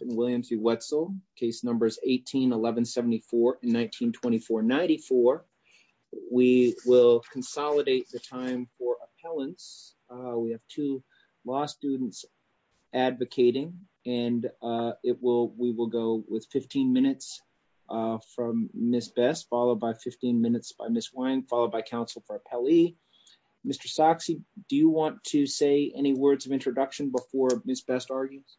and William C. Wetzel, Case Numbers 18-1174 and 19-2494. We will consolidate the time for appellants. We have two law students advocating and we will go with 15 minutes from Ms. Best followed by 15 minutes by Ms. Wine followed by counsel for appellee. Mr. Soxie, do you say any words of introduction before Ms. Best argues?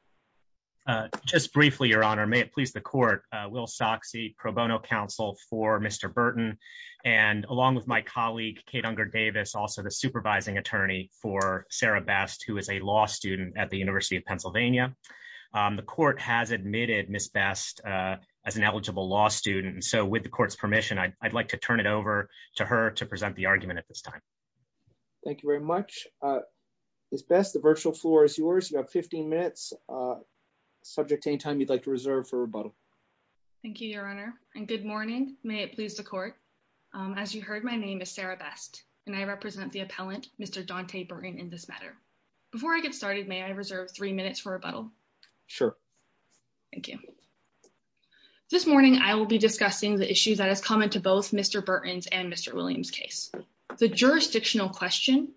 Just briefly, your honor. May it please the court. Will Soxie, pro bono counsel for Mr. Burton and along with my colleague Kate Unger Davis, also the supervising attorney for Sarah Best, who is a law student at the University of Pennsylvania. The court has admitted Ms. Best as an eligible law student. So with the court's permission, I'd like to turn it over to her to Ms. Best. The virtual floor is yours. You have 15 minutes, subject to any time you'd like to reserve for rebuttal. Thank you, your honor, and good morning. May it please the court. As you heard, my name is Sarah Best and I represent the appellant, Mr. Daunte Burton, in this matter. Before I get started, may I reserve three minutes for rebuttal? Sure. Thank you. This morning, I will be discussing the issues that are common to both Mr. Burton's and Mr. William's case. The jurisdictional question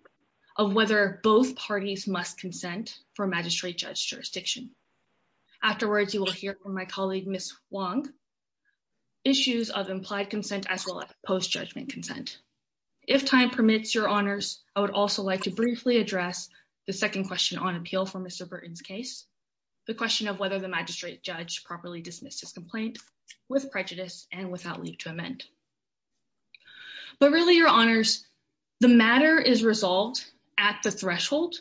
of whether both parties must consent for magistrate-judge jurisdiction. Afterwards, you will hear from my colleague, Ms. Huang, issues of implied consent as well as post-judgment consent. If time permits, your honors, I would also like to briefly address the second question on appeal for Mr. Burton's case, the question of whether the magistrate-judge properly dismissed his complaint with prejudice and without need to amend. But really, your honors, the matter is at the threshold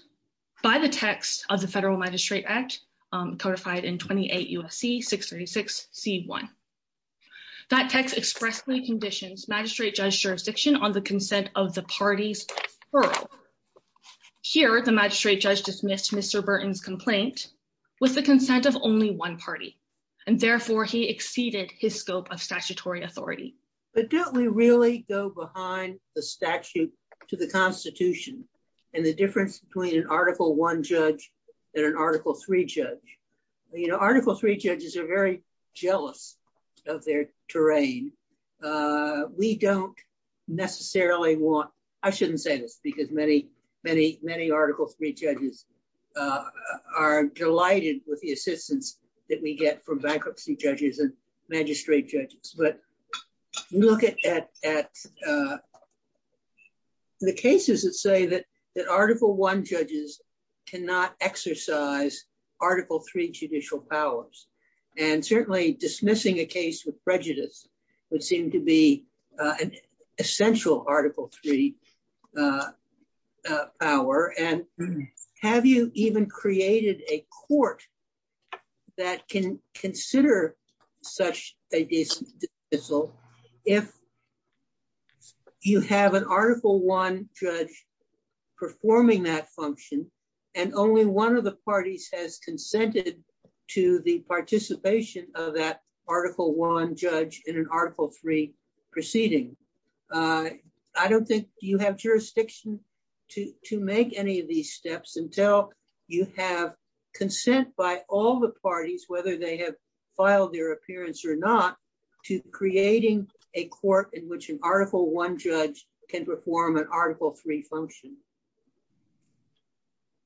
by the text of the Federal Magistrate Act, codified in 28 U.S.C. 636 c.1. That text expressly conditions magistrate-judge jurisdiction on the consent of the parties. Here, the magistrate-judge dismissed Mr. Burton's complaint with the consent of only one party, and therefore, he exceeded his scope of statutory authority. But don't we really go behind the statute to the Constitution and the difference between an Article I judge and an Article III judge? You know, Article III judges are very jealous of their terrain. We don't necessarily want, I shouldn't say this because many, many, many Article III judges are delighted with the the cases that say that Article I judges cannot exercise Article III judicial powers. And certainly, dismissing a case with prejudice would seem to be an essential Article III power. And have you even created a court that can consider such a dismissal if you have an Article I judge performing that function and only one of the parties has consented to the participation of that Article I judge in an Article III proceeding? I don't think you have jurisdiction to make any of these steps until you have consent by all the parties, whether they have filed their appearance or not, to creating a court in which an Article I judge can perform an Article III function.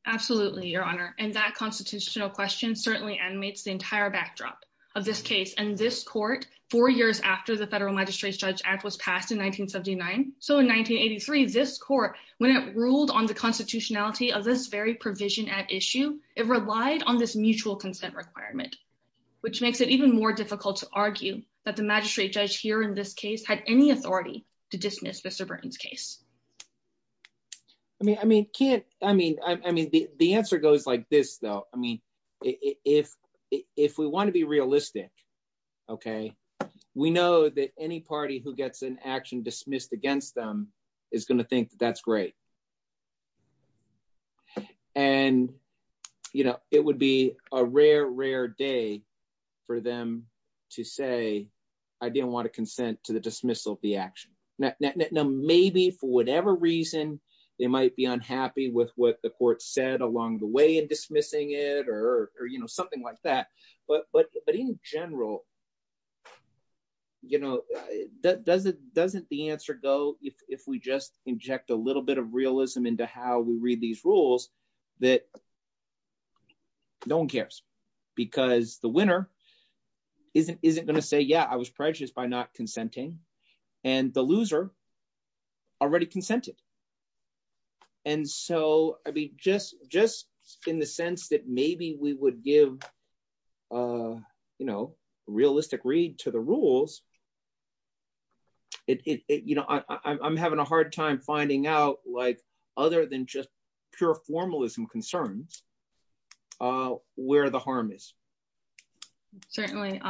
Absolutely, Your Honor. And that constitutional question certainly animates the entire backdrop of this case. And this court, four years after the federal magistrate-judge act was passed in 1979, so in 1983, this court, when it ruled on the constitutionality of this very provision at issue, it relied on this mutual consent requirement, which makes it even more difficult to argue that the magistrate-judge here in this case had any authority to dismiss Mr. Burton's case. I mean, the answer goes like this, though. I mean, if we want to be realistic, okay, we know that any party who gets an action dismissed against them is going to think that's great. And, you know, it would be a rare, rare day for them to say, I didn't want to consent to the dismissal of the action. Now, maybe, for whatever reason, they might be unhappy with what the court said along the way in dismissing it or, you know, something like that. But in general, you know, doesn't the answer go if we just inject a little bit of realism into how we read these rules that no one cares? Because the winner isn't going to say, yeah, I was prejudiced by not consenting. And the loser already consented. And so, I mean, just in the sense that maybe we would give, you know, realistic read to the rules, it, you know, I'm having a hard time finding out, like, other than just pure formalism concerns, where the harm is. Certainly,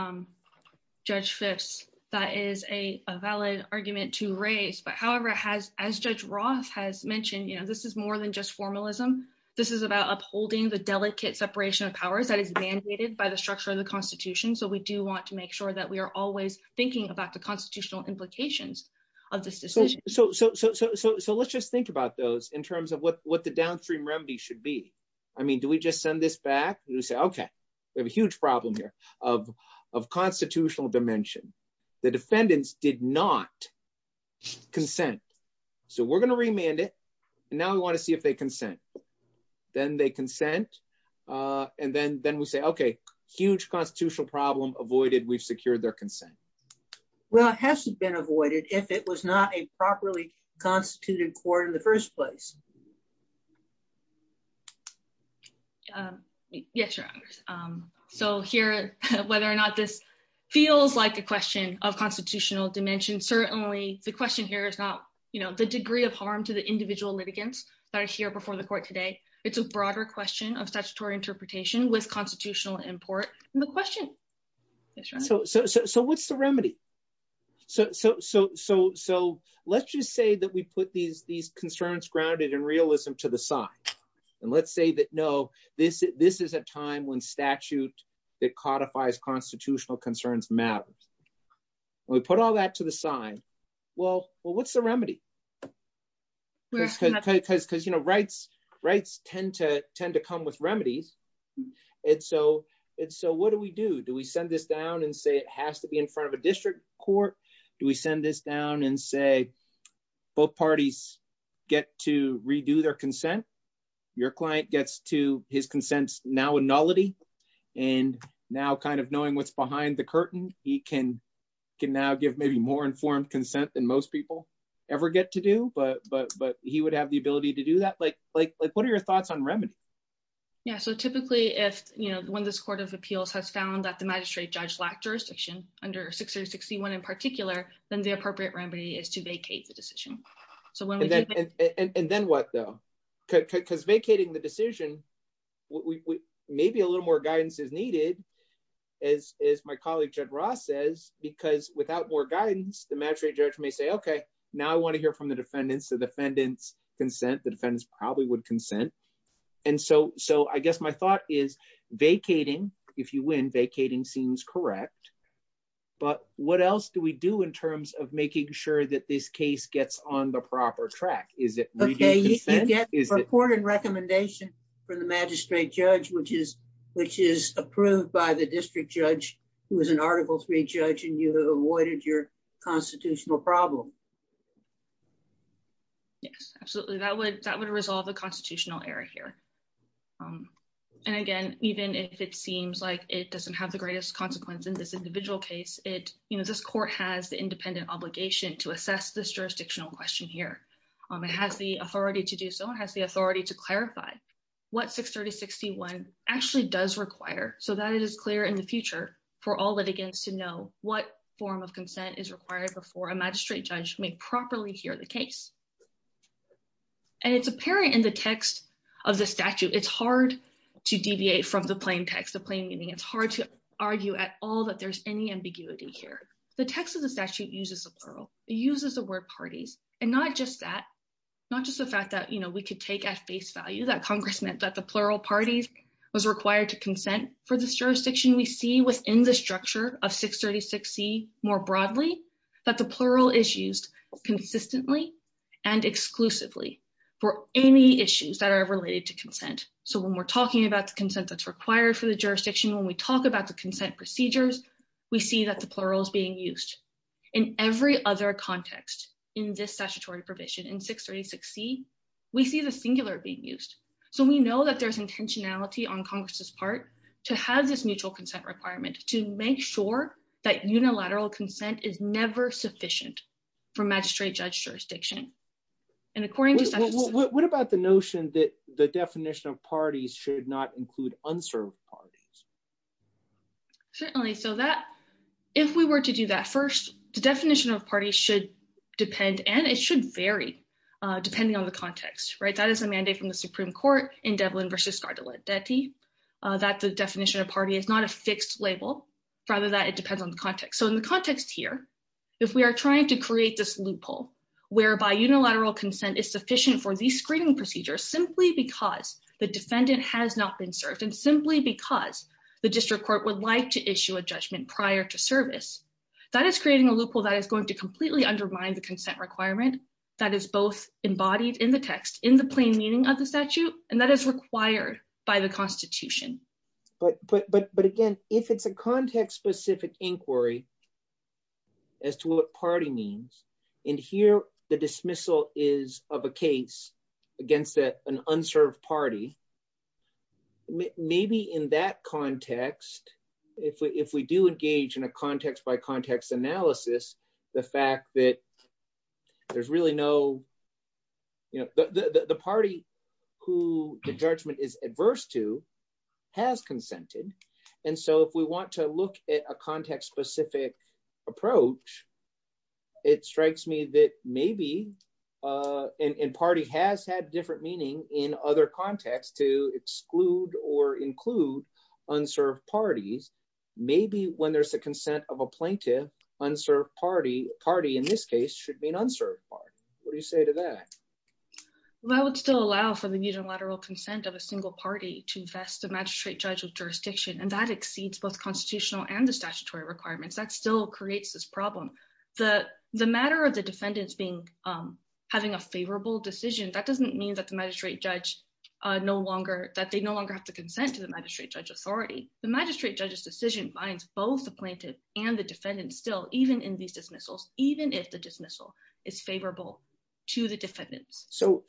Judge Fitts, that is a valid argument to raise. But however, as Judge Roth has mentioned, you know, this is more than just formalism. This is about upholding the delicate separation of power that is mandated by the structure of the Constitution. So, we do want to make sure that we are always thinking about the constitutional implications of this decision. So, let's just think about those in terms of what the downstream remedy should be. I mean, we just send this back and say, okay, we have a huge problem here of constitutional dimension. The defendants did not consent. So, we're going to remand it. Now, we want to see if they consent. Then they consent. And then we say, okay, huge constitutional problem avoided. We've secured their consent. Well, it has been avoided if it was not a properly constituted court in the first place. Yes, Your Honor. So, here, whether or not this feels like a question of constitutional dimension, certainly the question here is about, you know, the degree of harm to the individual litigants that are here before the court today. It's a broader question of statutory interpretation with constitutional import in the question. Yes, Your Honor. So, what's the remedy? So, let's just say that we put these concerns grounded in realism to the side. And let's say that, no, this is a time when statute that codifies constitutional concerns matters. We put all that to the side. Well, what's the remedy? Because, you know, rights tend to come with remedies. And so, what do we do? Do we send this down and say it has to be in front of a district court? Do we send this down and say both parties get to redo their consent? Your client gets to his consents now in nullity. And now, kind of knowing what's behind the curtain, he can now give maybe more informed consent than most people ever get to do. But he would have the ability to do that. Like, what are your thoughts on remedy? Yeah. So, typically, if, you know, when this Court of Appeals has found that the magistrate judge lacked jurisdiction under 6361 in particular, then the appropriate remedy is to vacate the decision. And then what though? Because vacating the decision, maybe a little more guidance is needed, as my colleague Jed Ross says, because without more guidance, the magistrate judge may say, okay, now I want to hear from the defendants. The defendants consent, the defendants probably would consent. And so, I guess my thought is vacating, if you win, vacating seems correct. But what else do we do in terms of making sure that this case gets on the proper track? Okay, you can get recorded recommendation from the magistrate judge, which is approved by the court. Yes, absolutely. That would resolve a constitutional error here. And again, even if it seems like it doesn't have the greatest consequence in this individual case, it, you know, this court has the independent obligation to assess this jurisdictional question here. It has the authority to do so. It has the authority to clarify what 6361 actually does require so that it is clear in the future for all litigants to know what form of consent is required before a magistrate judge may properly hear the case. And it's apparent in the text of the statute. It's hard to deviate from the plain text, the plain meaning. It's hard to argue at all that there's any ambiguity here. The text of the statute uses the plural. It uses the word parties. And not just that, not just the fact that, you know, we could take at face value that Congress meant that the plural parties was required to more broadly, but the plural is used consistently and exclusively for any issues that are related to consent. So when we're talking about the consent that's required for the jurisdiction, when we talk about the consent procedures, we see that the plural is being used. In every other context in this statutory provision, in 636C, we see the singular being used. So we know that there's intentionality on Congress's part to have this mutual consent requirements to make sure that unilateral consent is never sufficient for magistrate judge jurisdiction. And according to- What about the notion that the definition of parties should not include unserved parties? Certainly. So that, if we were to do that first, the definition of parties should depend, and it should vary depending on the context, right? That is a mandate from the Supreme Court in Devlin v. Scardelletti that the definition of fixed label, rather that it depends on the context. So in the context here, if we are trying to create this loophole, whereby unilateral consent is sufficient for these screening procedures, simply because the defendant has not been served and simply because the district court would like to issue a judgment prior to service, that is creating a loophole that is going to completely undermine the consent requirement that is both embodied in the text, in the plain meaning of the statute, and that is required by the constitution. But again, if it's a context specific inquiry as to what party means, and here the dismissal is of a case against an unserved party, maybe in that context, if we do engage in a context by context analysis, the fact that there's really no, the party who the judgment is adverse to has consented. And so if we want to look at a context specific approach, it strikes me that maybe, and party has had different meaning in other contexts to exclude or include unserved parties, maybe when there's the consent of a unserved party. What do you say to that? Well, I would still allow for the unilateral consent of a single party to vest the magistrate judge's jurisdiction, and that exceeds both constitutional and the statutory requirements. That still creates this problem. The matter of the defendants having a favorable decision, that doesn't mean that the magistrate judge no longer, that they no longer have to consent to the magistrate judge authority. The magistrate judge's decision binds both the plaintiff and the defendant still, even in these dismissals, even if the dismissal is favorable to the defendants. So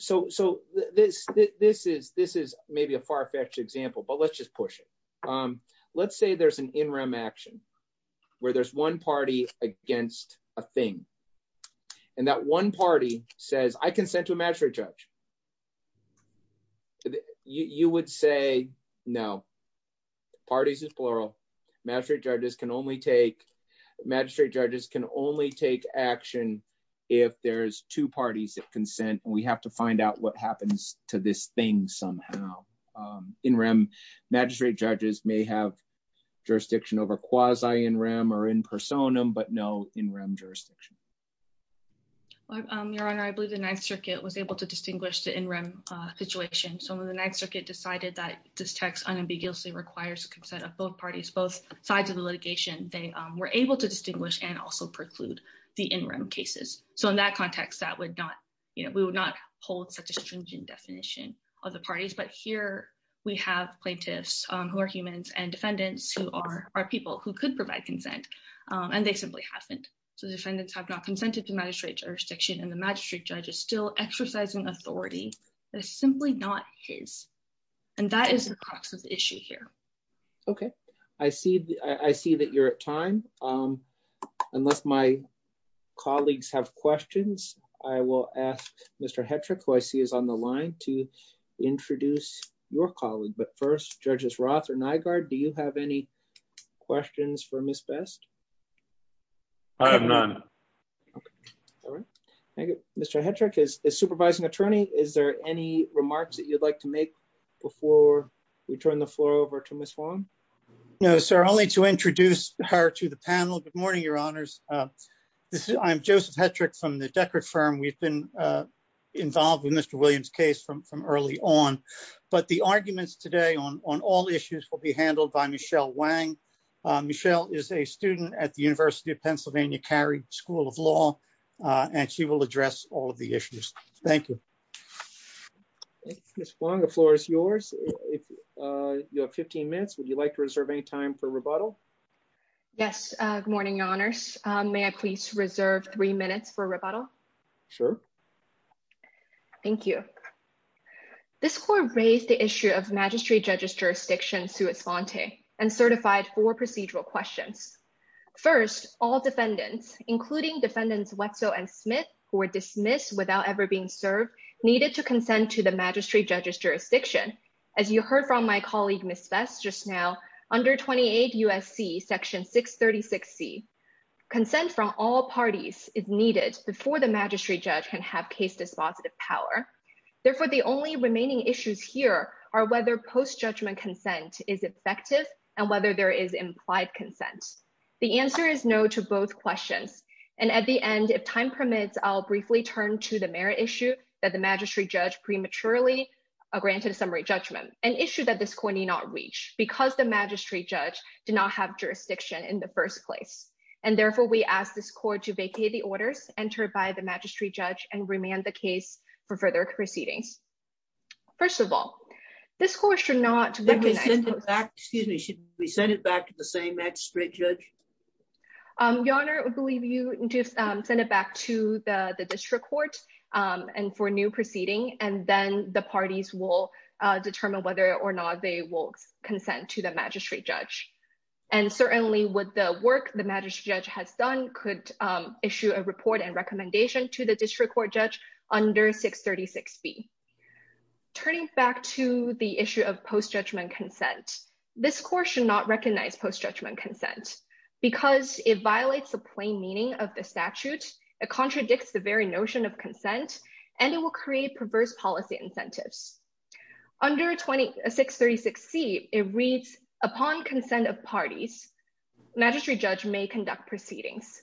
this is maybe a far-fetched example, but let's just push it. Let's say there's an in rem action where there's one party against a thing. And that one party says, I consent to a magistrate judge. You would say, no, parties is plural. Magistrate judges can only take, action if there's two parties that consent, and we have to find out what happens to this thing somehow. In rem, magistrate judges may have jurisdiction over quasi in rem or in personam, but no in rem jurisdiction. Your Honor, I believe the 9th Circuit was able to distinguish the in rem situation. So when the 9th Circuit decided that this text unambiguously requires consent of both parties, both sides of the litigation, they were able to distinguish and also preclude in rem cases. So in that context, we would not hold such a stringent definition of the parties, but here we have plaintiffs who are humans and defendants who are people who could provide consent and they simply haven't. So defendants have not consented to magistrate jurisdiction and the magistrate judge is still exercising authority that's simply not his. And that is the issue here. Okay. I see that you're at time. Unless my colleagues have questions, I will ask Mr. Hetrick, who I see is on the line to introduce your colleague. But first, Judges Roth and Nygaard, do you have any questions for Ms. Best? I have none. Okay. All right. Thank you. Mr. Hetrick, as supervising attorney, is there any remarks that you'd like to make before we turn the floor over to Ms. Wong? No, sir. Only to introduce her to the panel. Good morning, your honors. I'm Joseph Hetrick from the Decker firm. We've been involved in Mr. Williams' case from early on, but the arguments today on all issues will be handled by Michelle Wang. Michelle is a student at the University of Pennsylvania Carey School of Law and she will address all of the issues. Thank you. Thank you, Ms. Wong. The floor is yours. You have 15 minutes. Would you like to reserve any time for rebuttal? Yes. Good morning, your honors. May I please reserve three minutes for rebuttal? Sure. Thank you. This court raised the issue of magistrate judge's jurisdiction to its fonte and certified four procedural questions. First, all defendants, including defendants Wetzel and Wetzel, are needed to consent to the magistrate judge's jurisdiction. As you heard from my colleague, Ms. Best, just now, under 28 U.S.C. Section 636C, consent from all parties is needed before the magistrate judge can have case dispositive power. Therefore, the only remaining issues here are whether post-judgment consent is effective and whether there is implied consent. The answer is no to both questions. And at the end, if time permits, I'll briefly turn to the issue that the magistrate judge prematurely granted summary judgment, an issue that this court did not reach because the magistrate judge did not have jurisdiction in the first place. And therefore, we ask this court to vacate the orders entered by the magistrate judge and remand the case for further proceeding. First of all, this court should not- Excuse me. Should we send it back to the same magistrate judge? Your honor, I believe you just sent it back to the district court and for new proceeding, and then the parties will determine whether or not they will consent to the magistrate judge. And certainly, with the work the magistrate judge has done, could issue a report and recommendation to the district court judge under 636B. Turning back to the issue of post-judgment consent, this court should not recognize post-judgment consent because it violates the plain meaning of the statute. It contradicts the very notion of consent and it will create perverse policy incentives. Under 636C, it reads, upon consent of parties, magistrate judge may conduct proceedings.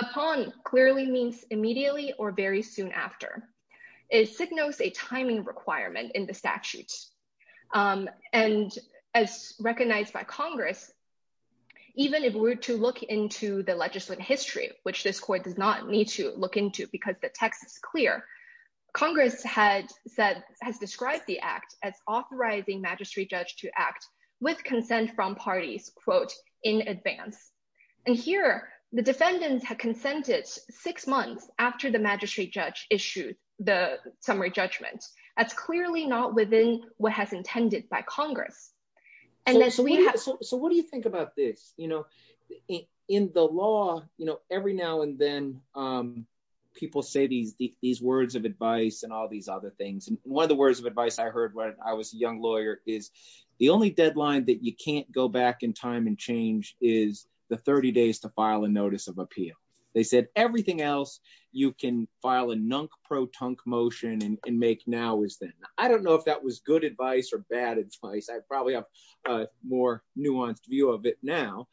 Upon clearly means immediately or very soon after. It signals a timing requirement in the statute. And as recognized by Congress, even if we were to look into the legislative history, which this court does not need to look into because the text is clear, Congress has described the act as authorizing magistrate judge to act with consent from parties, quote, in advance. And here, the defendants have consented six months after the magistrate judge issued the summary judgment. That's clearly not within what has been intended by Congress. So what do you think about this? In the law, every now and then, people say these words of advice and all these other things. And one of the words of advice I heard when I was a young lawyer is, the only deadline that you can't go back in time and change is the 30 days to file a notice of appeal. They said everything else you can file a nunk-pro-tunk motion and make now is then. I don't know if that was good advice or bad advice. I probably have a nuanced view of it now.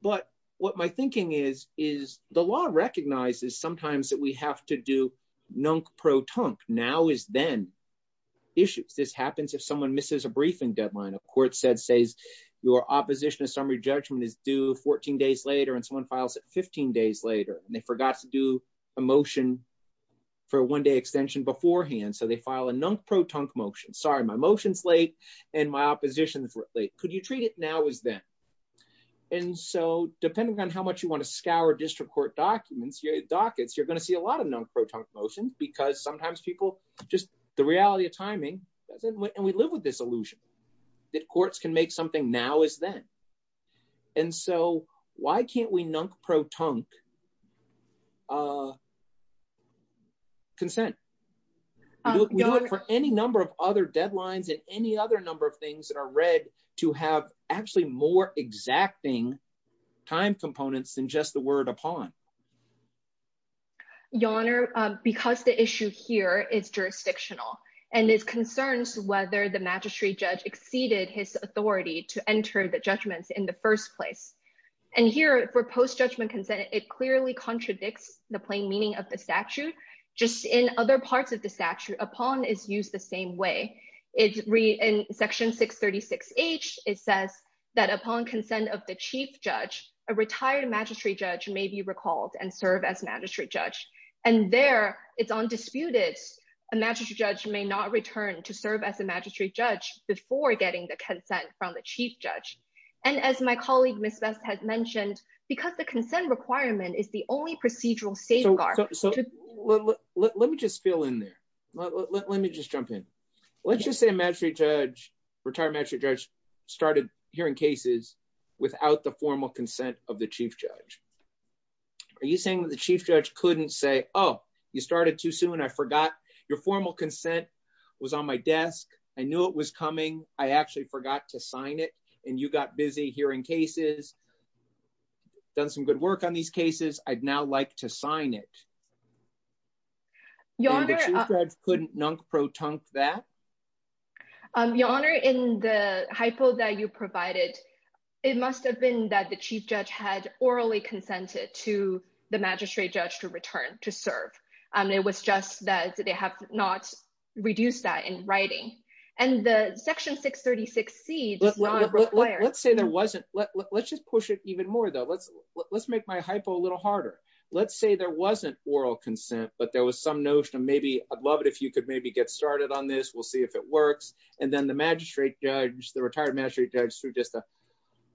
But what my thinking is, is the law recognizes sometimes that we have to do nunk-pro-tunk, now is then, issues. This happens if someone misses a briefing deadline. A court said, says, your opposition to summary judgment is due 14 days later and someone files it 15 days later. And they forgot to do a motion for a one-day extension beforehand. So they file a motion late and my opposition is late. Could you treat it now is then? And so depending on how much you want to scour district court dockets, you're going to see a lot of nunk-pro-tunk motions, because sometimes people, just the reality of timing, and we live with this illusion, that courts can make something now is then. And so why can't we nunk-pro-tunk consent? For any number of other deadlines and any other number of things that are read to have actually more exacting time components than just the word upon. Your Honor, because the issue here is jurisdictional and it concerns whether the magistrate judge exceeded his authority to enter the judgments in the first place. And here, for post-judgment consent, it clearly contradicts the plain meaning of the statute. Just in other parts of the statute, upon is used the same way. In section 636H, it says that upon consent of the chief judge, a retired magistrate judge may be recalled and serve as magistrate judge. And there, it's undisputed, a magistrate judge may not return to serve as a magistrate judge, because the consent requirement is the only procedural safeguard. Let me just fill in there. Let me just jump in. Let's just say a retired magistrate judge started hearing cases without the formal consent of the chief judge. Are you saying that the chief judge couldn't say, oh, you started too soon, I forgot your formal consent was on my desk, I knew it was coming, I actually forgot to sign it, and you got busy hearing cases, done some good work on these cases, I'd now like to sign it? Your Honor— And the chief judge couldn't non-protunct that? Your Honor, in the hypo that you provided, it must have been that the chief judge had orally consented to the magistrate judge to return to serve. It was just that they have not reduced that in writing. And the Section 636C— Let's say there wasn't—let's just push it even more, though. Let's make my hypo a little harder. Let's say there wasn't oral consent, but there was some notion of maybe, I'd love it if you could maybe get started on this, we'll see if it works. And then the magistrate judge, the retired magistrate judge, through just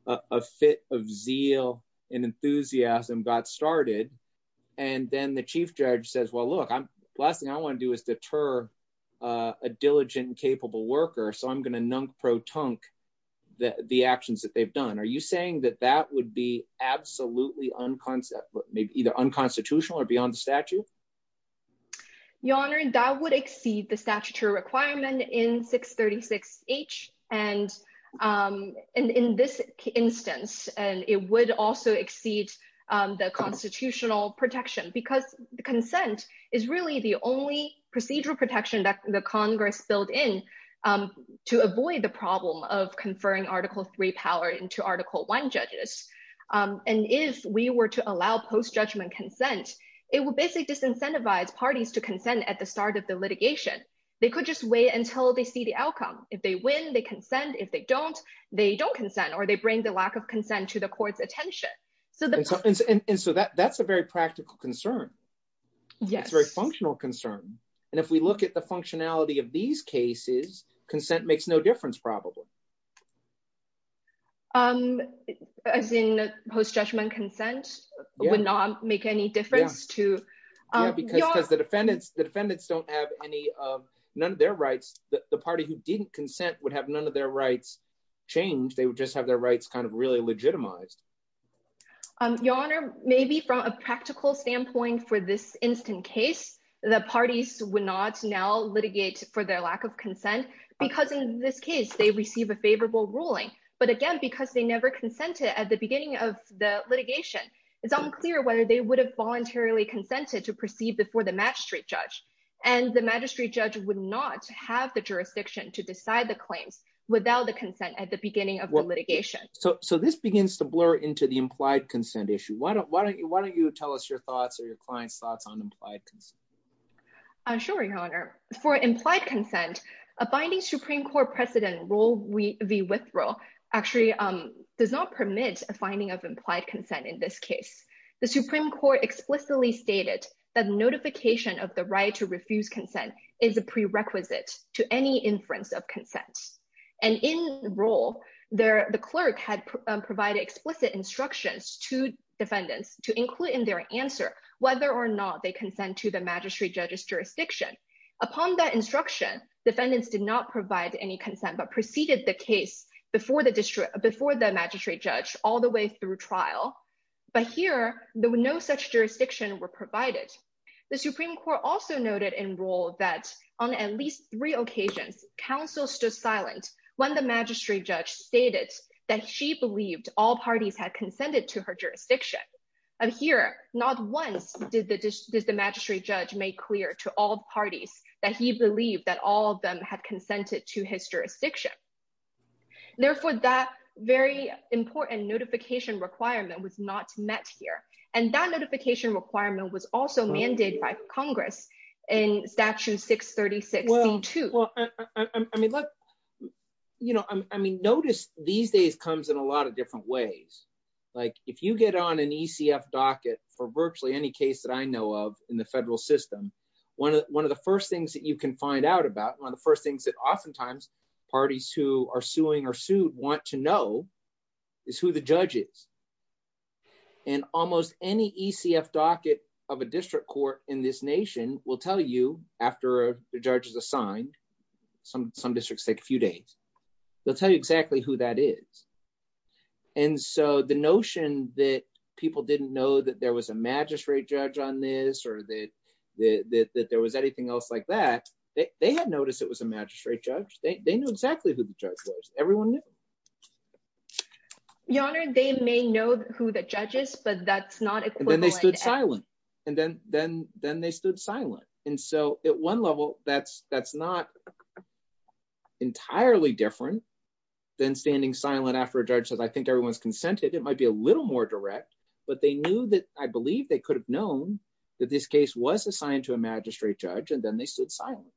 a fit of zeal and enthusiasm, got started. And then the chief judge says, well, look, the last thing I want to do is deter a diligent, capable worker, so I'm going to non-protunct the actions that they've done. Are you saying that that would be absolutely unconstitutional or beyond the statute? Your Honor, that would exceed the statutory requirement in 636H, and in this instance, and it would also exceed the constitutional protection, because the consent is really the only procedural protection that the Congress filled in to avoid the problem of conferring Article III power into Article I judges. And if we were to allow post-judgment consent, it would basically disincentivize parties to consent at the start of the litigation. They could just wait until they see the outcome. If they win, they consent. If they don't, they don't consent, or they bring the lack of consent to the court's attention. And so that's a very practical concern. It's a very functional concern. And if we look at the functionality of these cases, consent makes no difference, probably. As in post-judgment consent would not make any difference to... Yeah, because the defendants don't have any, none of their rights, the party who didn't consent would have none of their rights changed. They would just have their rights kind of really legitimized. Your Honor, maybe from a practical standpoint for this instant case, the parties would not now litigate for their lack of consent, because in this case, they receive a favorable ruling. But again, because they never consented at the beginning of the litigation, it's unclear whether they would have voluntarily consented to proceed before the magistrate judge. And the magistrate judge would not have the jurisdiction to decide the claim without the consent at the beginning of the litigation. So this begins to blur into the implied consent issue. Why don't you tell us your thoughts or your client's thoughts on implied consent? Sure, Your Honor. For implied consent, a binding Supreme Court precedent, Rule v. Withdrawal, actually does not permit a finding of implied consent in this case. The Supreme Court explicitly stated that notification of the right to refuse consent is a prerequisite to any inference of consent. And in the rule, the clerk had provided explicit instructions to defendants to include in their answer whether or not they consent to the magistrate judge's jurisdiction. Upon that instruction, defendants did not provide any consent but proceeded the case before the magistrate judge all the way through trial. But here, no such jurisdiction were provided. The Supreme Court also noted in rule that on at least three occasions, counsel stood silent when the magistrate judge stated that she believed all parties had consented to her jurisdiction. And here, not once did the magistrate judge make clear to all parties that he believed that all of them had consented to his jurisdiction. Therefore, that very important notification requirement was not met here. And that notification requirement was also mandated by Congress in Statute 636. Well, I mean, look, you know, I mean, notice these days comes in a lot of different ways. Like if you get on an ECF docket or virtually any case that I know of in the federal system, one of the first things that you can find out about, one of the first things that oftentimes parties who are suing or sued want to know is who the judge is. And almost any ECF docket of a district court in this nation will tell you after the judge is assigned, some districts take a few days, they'll tell you exactly who that is. And so the notion that people didn't know that there was a magistrate judge on this or that there was anything else like that, they had noticed it was a magistrate judge. They knew exactly who the judge was. Everyone knew. Your Honor, they may know who the judge is, but that's not equivalent. And then they stood silent. And then they stood silent. And so at one level, that's not entirely different than standing silent after a judge says, I think everyone's consented. It might be a little more direct, but they knew that I believe they could have known that this case was assigned to a magistrate judge. And then they stood silent.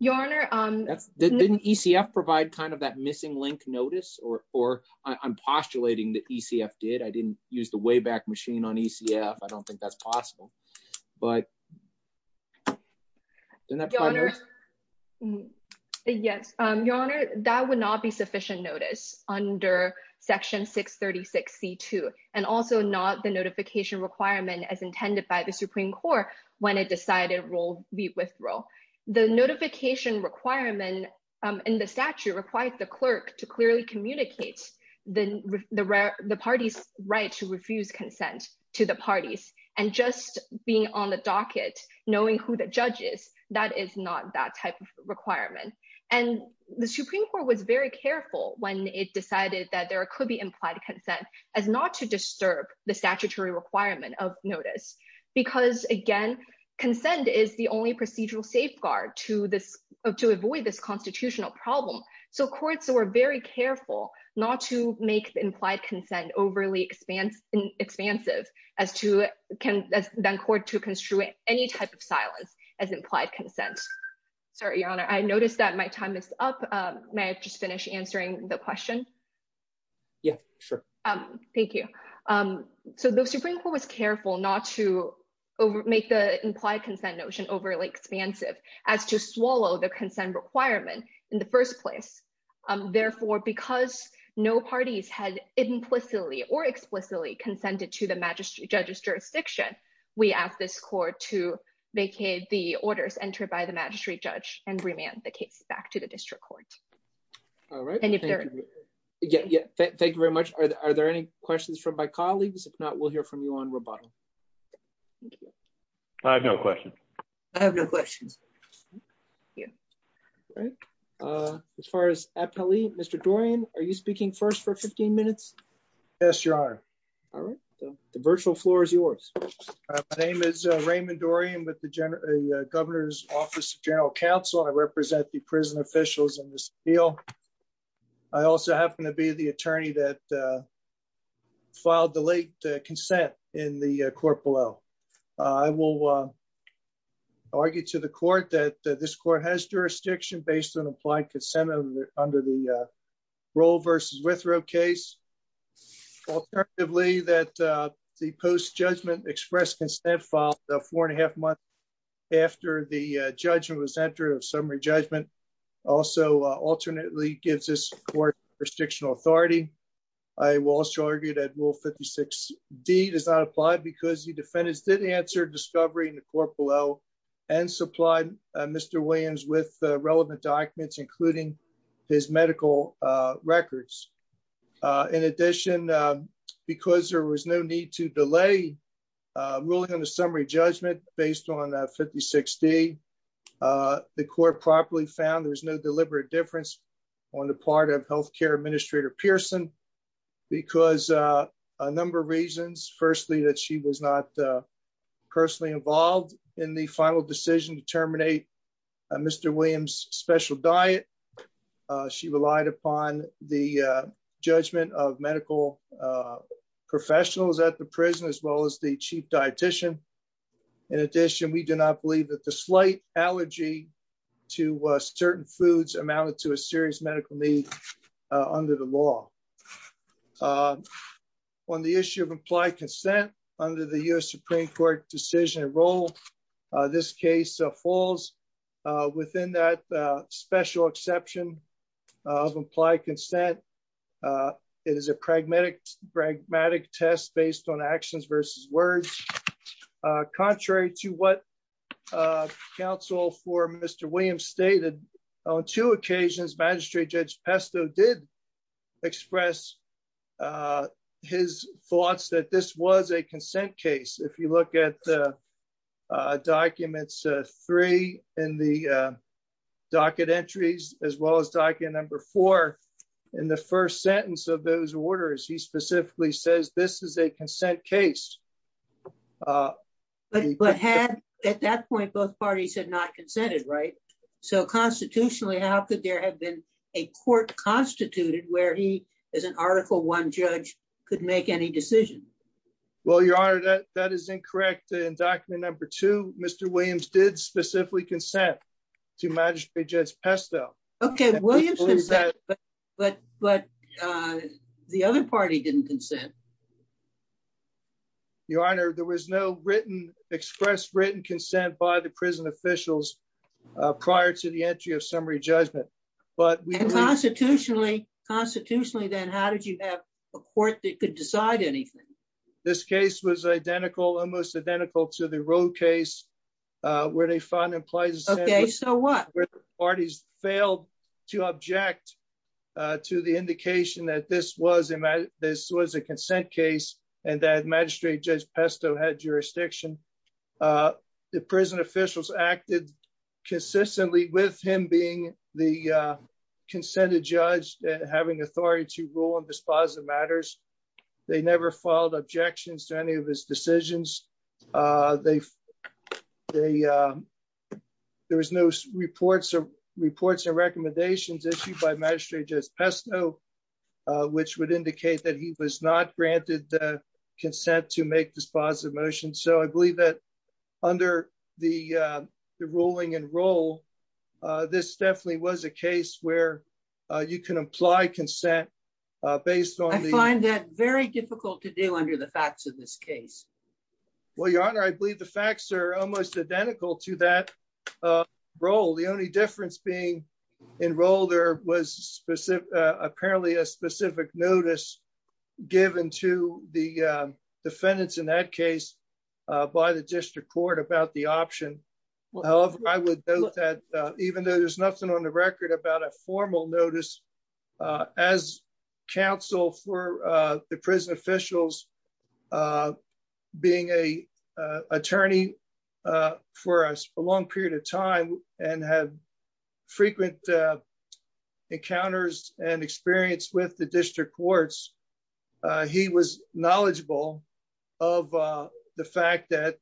Your Honor- Didn't ECF provide kind of that missing link notice or I'm postulating that ECF did. I didn't use the way back machine on ECF. I don't think that's possible, but- Yes. Your Honor, that would not be sufficient notice under Section 636C2 and also not the notification requirement as intended by the Supreme Court when it decided we'll be withdrawal. The notification requirement in the statute requires the clerk to clearly communicate the party's right to refuse consent to the parties. And just being on the docket, knowing who the judge is, that is not that type of requirement. And the Supreme Court was very careful when it decided that there could be implied consent as not to disturb the statutory requirement of notice. Because again, consent is the only procedural safeguard to avoid this constitutional problem. So courts were very careful not to make the implied consent overly expansive as to then court to construe any type of silence as implied consent. Sorry, Your Honor. I noticed that my time is up. May I just finish answering the question? Yeah, sure. Thank you. So the Supreme Court was careful not to make the implied consent notion overly expansive as to swallow the consent requirement in the first place. Therefore, because no parties had implicitly or explicitly consented to the magistrate judge's jurisdiction, we ask this court to vacate the orders entered by the magistrate judge and remand the case back to the district court. All right. Thank you very much. Are there any questions from my colleagues? If not, we'll hear from you on rebuttal. I have no question. I have no question. Yeah. All right. As far as Mr. Dorian, are you speaking first for 15 minutes? Yes, Your Honor. All right. The virtual floor is yours. My name is Raymond Dorian with the Governor's Office of General Counsel. I represent the prison officials in this field. I also happen to be the attorney that filed the late consent in the court below. I will argue to the court that this court has jurisdiction based on implied consent under the Roll v. Withrow case. Alternatively, that the post-judgment express consent filed four and a half months after the judgment was entered of summary judgment also alternately gives this court jurisdictional authority. I will also argue that Rule 56d does not apply because the defendant did answer discovery in the court below and supplied Mr. Williams with relevant documents, including his medical records. In addition, because there was no need to delay ruling on the summary judgment based on 56d, the court properly found there's no deliberate difference on the part of health care administrator Pearson because a number of reasons. Firstly, that she was not personally involved in the final decision to terminate Mr. Williams' special diet. She relied upon the judgment of medical professionals at the prison as well as the chief dietician. In addition, we do not believe that the slight allergy to certain foods amounted to a serious medical need under the law. On the issue of implied consent under the U.S. Supreme Court decision of Roll, this case falls within that special exception of implied consent. It is a pragmatic test based on actions versus words. Contrary to what counsel for Mr. Williams stated, on two occasions Magistrate Judge Pesto did express his thoughts that this was a consent case. If you look at documents three in the docket entries as well as document number four in the first sentence of those orders, he specifically says this is a consent case. But at that point, both parties had not consented, right? So constitutionally, how could there have been a court constituted where he, as an article one judge, could make any decision? Well, your honor, that is incorrect. In document number two, Mr. Williams did specifically consent to Magistrate Judge Pesto. Okay, but the other party didn't consent. Your honor, there was no express written consent by the prison officials prior to the entry of summary judgment. Constitutionally, then, how did you have a court that could decide anything? This case was almost identical to the Roll case where they found implied consent. Okay, so what? Where the parties failed to object to the Magistrate Judge Pesto had jurisdiction. The prison officials acted consistently with him being the consented judge and having authority to rule on dispositive matters. They never filed objections to any of his decisions. There was no reports or recommendations issued by Magistrate Judge Pesto, which would indicate that he was not granted the dispositive motion. So I believe that under the ruling in Roll, this definitely was a case where you can imply consent based on... I find that very difficult to do under the facts of this case. Well, your honor, I believe the facts are almost identical to that Roll. The only difference being in Roll, there was apparently a specific notice given to the defendants in that case by the district court about the option. However, I would note that even though there's nothing on the record about a formal notice, as counsel for the prison officials being an attorney for a long period of time and had frequent encounters and experience with the district courts, he was knowledgeable of the fact that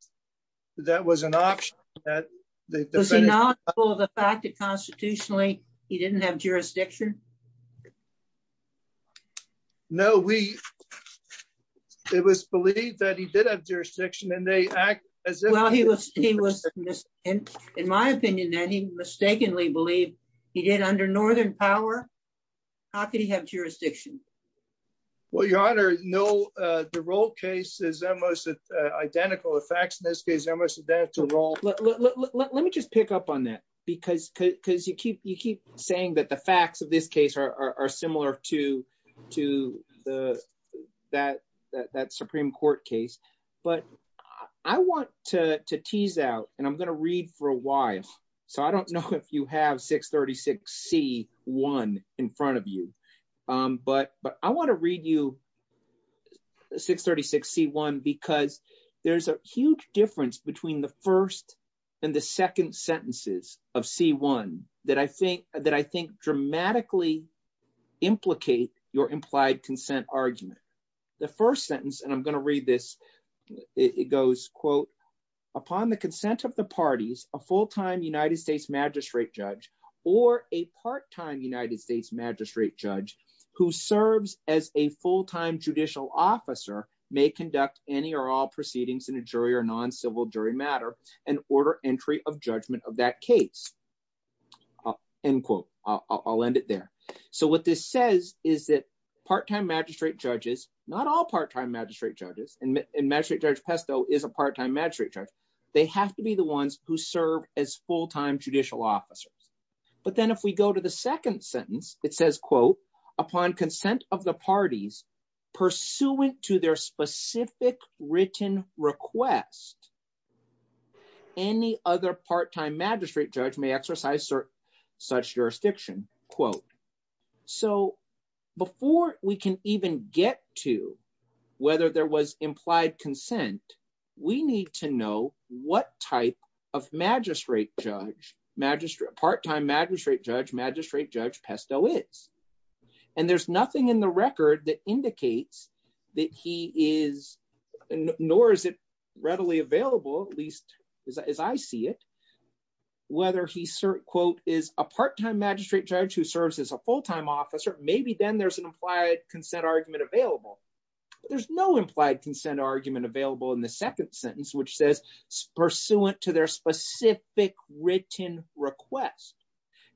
that was an option. Was he knowledgeable of the fact that constitutionally he didn't have jurisdiction? No, it was believed that he did have jurisdiction and they act as if... Well, he was, in my opinion, that he mistakenly believed he did under Northern power. How could he have jurisdiction? Well, your honor, no, the Roll case is almost identical. The facts in this case are almost identical to Roll. Let me just pick up on that because you keep saying that the facts of this case are similar to that Supreme Court case, but I want to tease out and I'm going to read for a while. So I don't know if you have 636C1 in front of you, but I want to read you 636C1 because there's a huge difference between the first and the second sentences of C1 that I think dramatically implicate your implied consent argument. The first sentence, and I'm going to read this, it goes, quote, upon the consent of the parties, a full-time United States magistrate judge or a part-time United States magistrate judge who serves as a full-time judicial officer may conduct any or all proceedings in a jury or of that case, end quote. I'll end it there. So what this says is that part-time magistrate judges, not all part-time magistrate judges, and magistrate judge Pesto is a part-time magistrate judge, they have to be the ones who serve as full-time judicial officers. But then if we go to the second sentence, it says, quote, upon consent of the parties pursuant to their specific written request, any other part-time magistrate judge may exercise such jurisdiction, quote. So before we can even get to whether there was implied consent, we need to know what type of magistrate judge, part-time magistrate judge, magistrate judge Pesto is. And there's nothing in the record that indicates that he is, nor is it readily available, at least as I see it, whether he, quote, is a part-time magistrate judge who serves as a full-time officer, maybe then there's an implied consent argument available. There's no implied consent argument available in the second sentence, which says pursuant to their specific written request.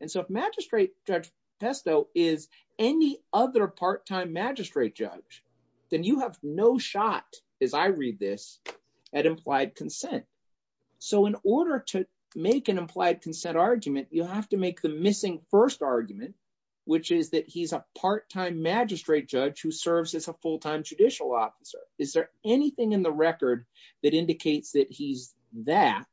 And so if magistrate judge Pesto is any other part-time magistrate judge, then you have no shot, as I read this, at implied consent. So in order to make an implied consent argument, you have to make the missing first argument, which is that he's a part-time magistrate judge who serves as a full-time judicial officer. Is there anything in the record that indicates that he's that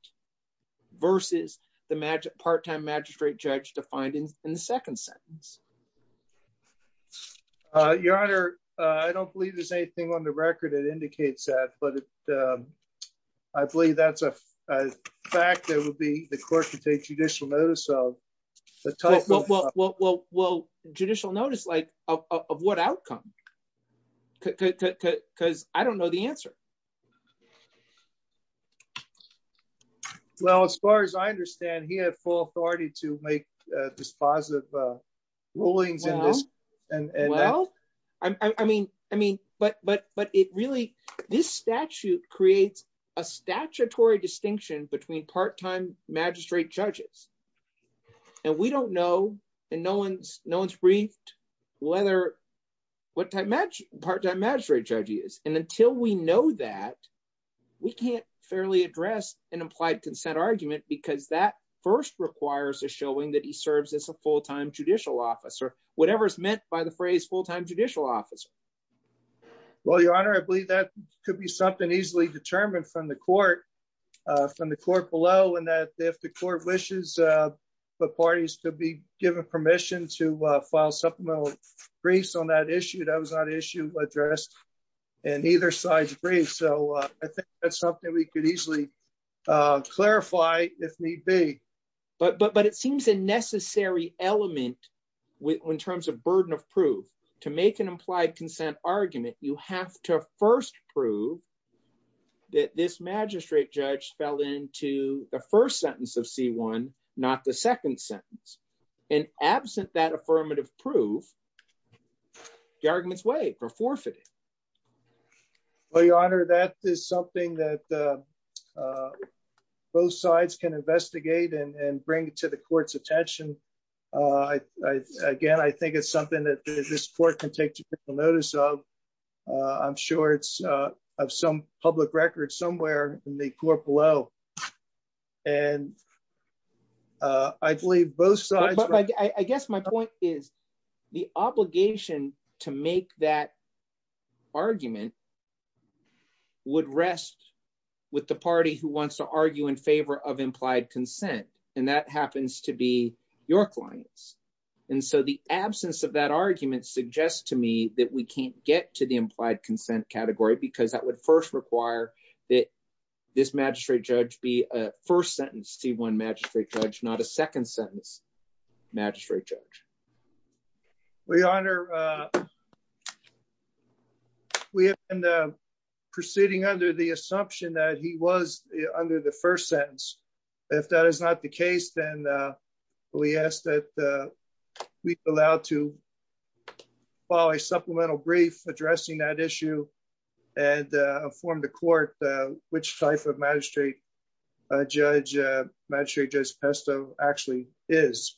versus the part-time magistrate judge defined in the second sentence? Your Honor, I don't believe there's anything on the record that indicates that, but I believe that's a fact that would be the court to take judicial notice of. Well, judicial notice of what outcome? Because I don't know the answer. Well, as far as I understand, he had full authority to make dispositive rulings. Well, I mean, but it really, this statute creates a statutory distinction between part-time magistrate judges. And we don't know, and no one's briefed, what part-time magistrate judge is. And until we know that, we can't fairly address an implied consent argument because that first requires a showing that he serves as a full-time judicial officer, whatever is meant by the phrase full-time judicial officer. Well, Your Honor, I believe that could be something easily determined from the court below, and that if the court wishes the parties to be given permission to file supplemental briefs on that issue, that was not an issue addressed in either side's brief. So I think that's something we could easily clarify if need be. But it seems a necessary element in terms of burden of proof. To make an implied consent argument, you have to first prove that this magistrate judge fell into the first sentence of C-1, not the second sentence. And absent that affirmative proof, the argument's waived for forfeiting. Well, Your Honor, that is something that both sides can investigate and bring to the court's attention. Again, I think it's something that this court can take notice of. I'm sure it's of some public record somewhere in the court below. And I believe both sides... I guess my point is the obligation to make that argument would rest with the party who wants to argue in favor of implied consent, and that happens to be your clients. And so the absence of that argument suggests to me that we can't get to the implied consent category because that would first require that this magistrate judge be a first sentence C-1 magistrate judge, not a second sentence magistrate judge. Your Honor, we have been proceeding under the assumption that he was under the first sentence. If that is not the case, then we ask that we be allowed to follow a supplemental brief addressing that issue and inform the court which type of magistrate judge magistrate Judge Pesto actually is.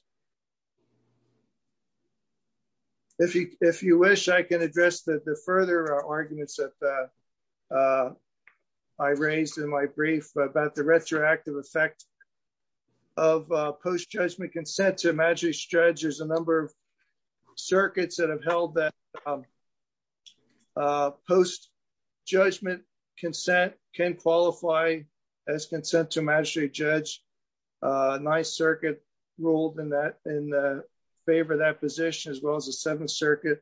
If you wish, I can address the further arguments that I raised in my brief about the retroactive effect of post-judgment consent to a magistrate judge. There's a number of circuits that have held that post-judgment consent can qualify as consent to a magistrate judge. Ninth Circuit ruled in favor of that position as well as the Seventh Circuit.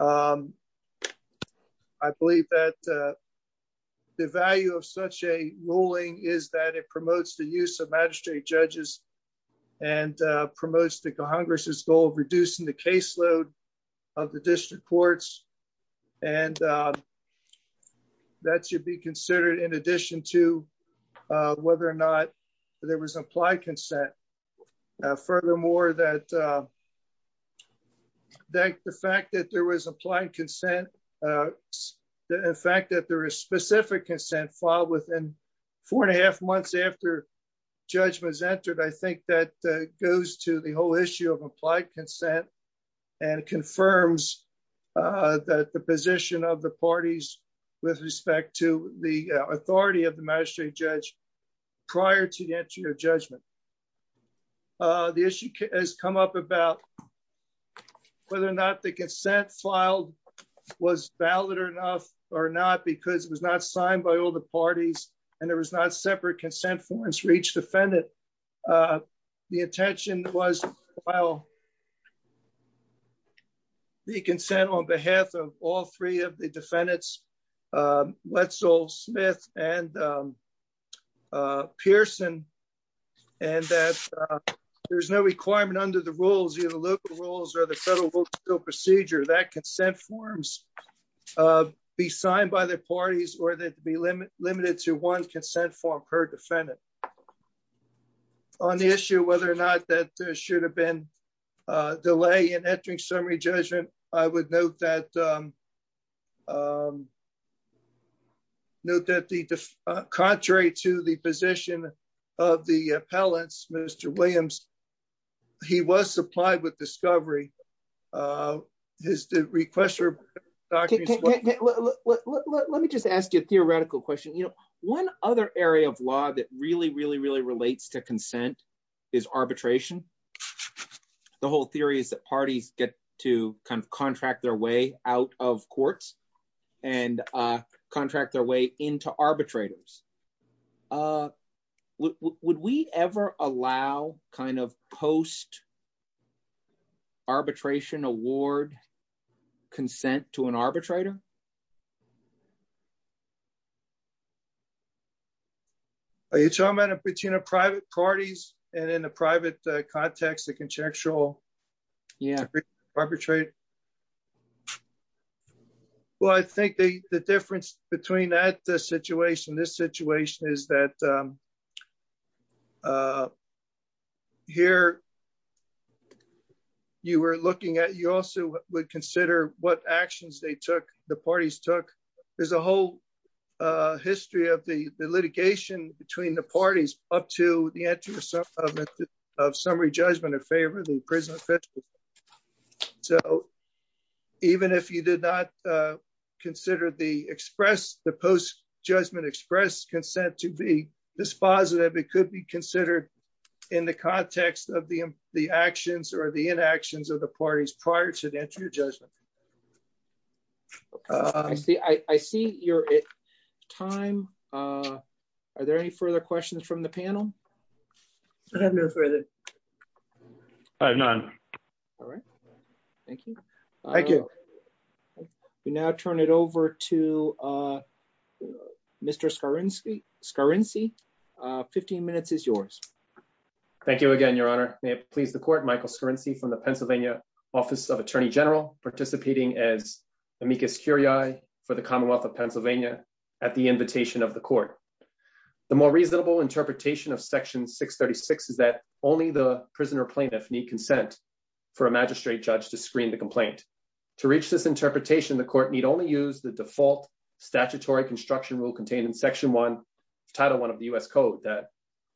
I believe that the value of such a ruling is that it promotes the use of magistrate judges and promotes the Congress's goal of reducing the caseload of the district courts. And that should be considered in addition to whether or not there was implied consent. Furthermore, that the fact that there was implied consent, the fact that there is specific consent filed within four and a half months after judgment is entered, I think that goes to the whole issue of applied consent and confirms the position of the parties with respect to the authority of the magistrate judge prior to the entry of judgment. The issue has come up about whether or not the consent filed was valid enough or not because it was not signed by all the parties and there was not separate consent forms for each defendant. The intention was to file the consent on behalf of all three of the defendants, Wetzel, Smith, and Pearson, and that there's no requirement under the rules, either local rules or the federal procedure, that consent forms be signed by the parties or that be limited to one consent form per defendant. On the issue of whether or not that there should have been a delay in entering summary judgment, I would note that contrary to the position of the appellants, Mr. Williams, he was supplied with discovery. His request for... Let me just ask you a theoretical question. One other area of law that really, really, get to kind of contract their way out of courts and contract their way into arbitrators. Would we ever allow kind of post-arbitration award consent to an arbitrator? Are you talking about in between a private parties and in the private context, the conjectural... Yeah. ...arbitrate? Well, I think the difference between that situation, this situation is that here you were looking at... You also would consider what actions they took, the post-arbitration took. There's a whole history of the litigation between the parties up to the entry of summary judgment in favor of the prison officials. So even if you did not consider the express, the post-judgment express consent to be dispositive, it could be considered in the context of the actions or the inactions of the parties prior to the entry of judgment. I see you're at time. Are there any further questions from the panel? I don't have any further. None. All right. Thank you. Thank you. We now turn it over to Mr. Skarinski. 15 minutes is yours. Thank you again, Your Honor. May it please the court, Michael Skarinski from the Pennsylvania Office of Attorney General, participating as amicus curiae for the Commonwealth of Pennsylvania at the invitation of the court. The more reasonable interpretation of Section 636 is that only the prisoner plaintiff need consent for a magistrate judge to screen the complaint. To reach this interpretation, the court need only use the default statutory construction rule contained in Section 1, Title 1 of the U.S. Code that,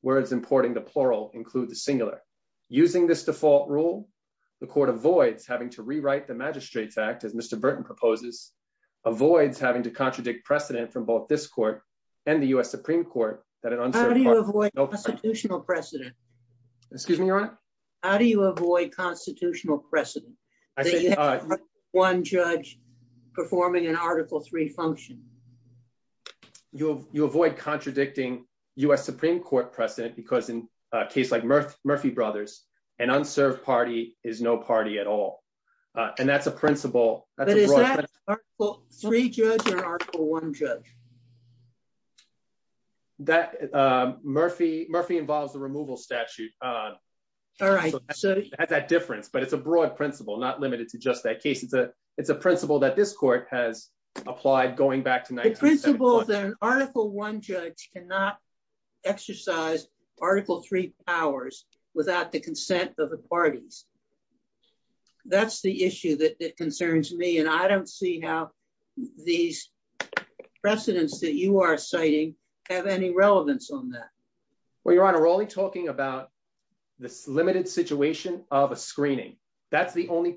whereas importing the plural includes singular. Using this default rule, the court avoids having to rewrite the magistrate fact, as Mr. Burton proposes, avoids having to contradict precedent from both this court and the U.S. Supreme Court. How do you avoid constitutional precedent? Excuse me, Your Honor? How do you avoid constitutional precedent? One judge performing an Article III function. You avoid contradicting U.S. Supreme Court precedent because in a case like Murphy Brothers, an unserved party is no party at all. And that's a principle. But is that Article III judge or Article I judge? That, Murphy, Murphy involves the removal statute. All right. So that difference, but it's a broad principle not limited to just that case, but it's a principle that this court has applied going back to 1975. The principle that an Article I judge cannot exercise Article III powers without the consent of the parties. That's the issue that concerns me, and I don't see how these precedents that you are citing have any relevance on that. Well, Your Honor, we're only talking about this limited situation of a screening. That's the only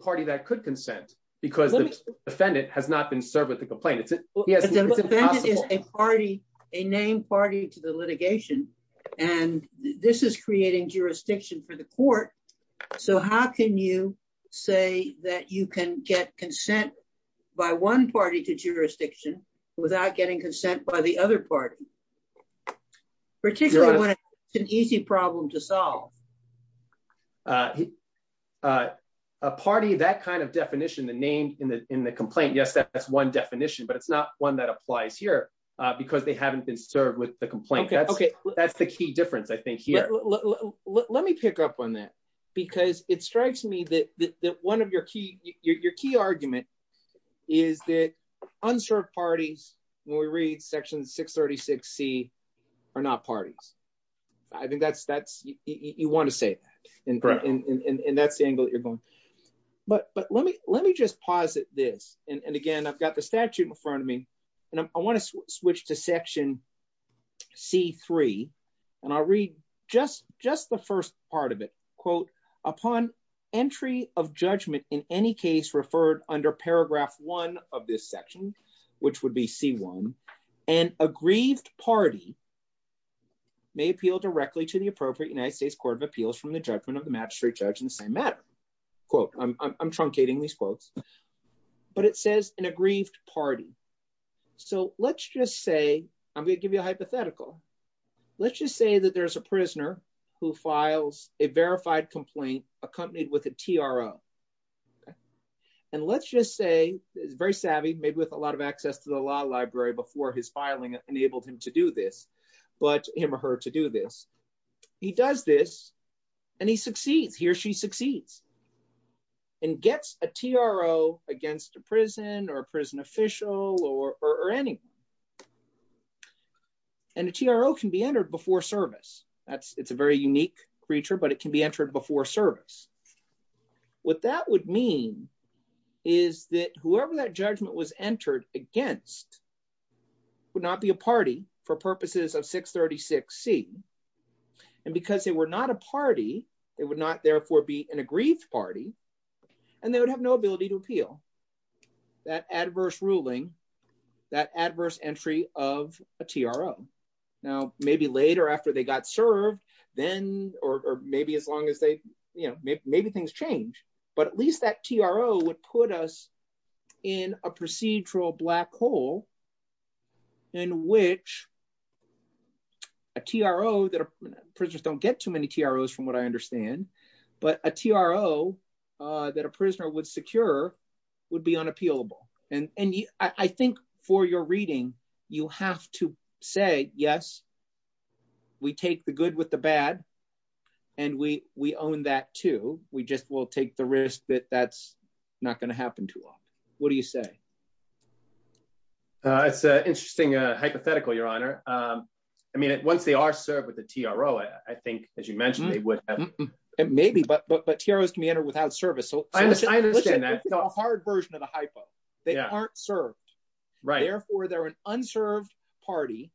has not been served with a complaint. A named party to the litigation, and this is creating jurisdiction for the court. So how can you say that you can get consent by one party to jurisdiction without getting consent by the other party, particularly when it's an easy problem to solve? A party, that kind of definition, the name in the complaint, yes, that's one definition, but it's not one that applies here because they haven't been served with the complaint. That's the key difference, I think, here. Let me pick up on that because it strikes me that one of your key argument is that unserved parties, when we read Section 636C, are not parties. I think you want to say that, and that's the angle that you're going. But let me just posit this, and again, I've got the statute in front of me, and I want to switch to Section C-3, and I'll read just the first part of it. Quote, upon entry of judgment in any case referred under Paragraph 1 of this section, which would be C-1, an aggrieved party may appeal directly to the appropriate United States Court of Appeals from the judgment of the magistrate judge in the same matter. Quote, I'm truncating these quotes, but it says an aggrieved party. So let's just say, I'm going to give you a hypothetical. Let's just say that there's a prisoner who files a verified complaint accompanied with a TRO. And let's just say, he's very savvy, maybe with a lot of access to the law library before his filing enabled him to do this, let him or her to do this. He does this, and he succeeds. He or she succeeds and gets a TRO against a prison or a prison official or anyone. And the TRO can be entered before service. It's a very unique creature, but it can be entered before service. What that would mean is that whoever that judgment was entered against would not be a party for purposes of 636C. And because they were not a party, they would not therefore be an aggrieved party, and they would have no ability to appeal that adverse ruling, that adverse entry of a TRO. Now, maybe later after they got served, then, or maybe as long as they, you know, maybe things change, but at least that TRO would put us in a procedural black hole in which a TRO, prisoners don't get too many TROs from what I understand, but a TRO that a prisoner would secure would be unappealable. And I think for your reading, you have to say, yes, we take the good with the bad, and we own that too. We just will take the risk that that's not going to happen to us. What do you say? It's an interesting hypothetical, Your Honor. I mean, once they are served with a TRO, I think, as you mentioned, it would... Maybe, but TROs can be entered without service. I understand that. This is a hard version of the hypo. They aren't served. Therefore, they're an unserved party,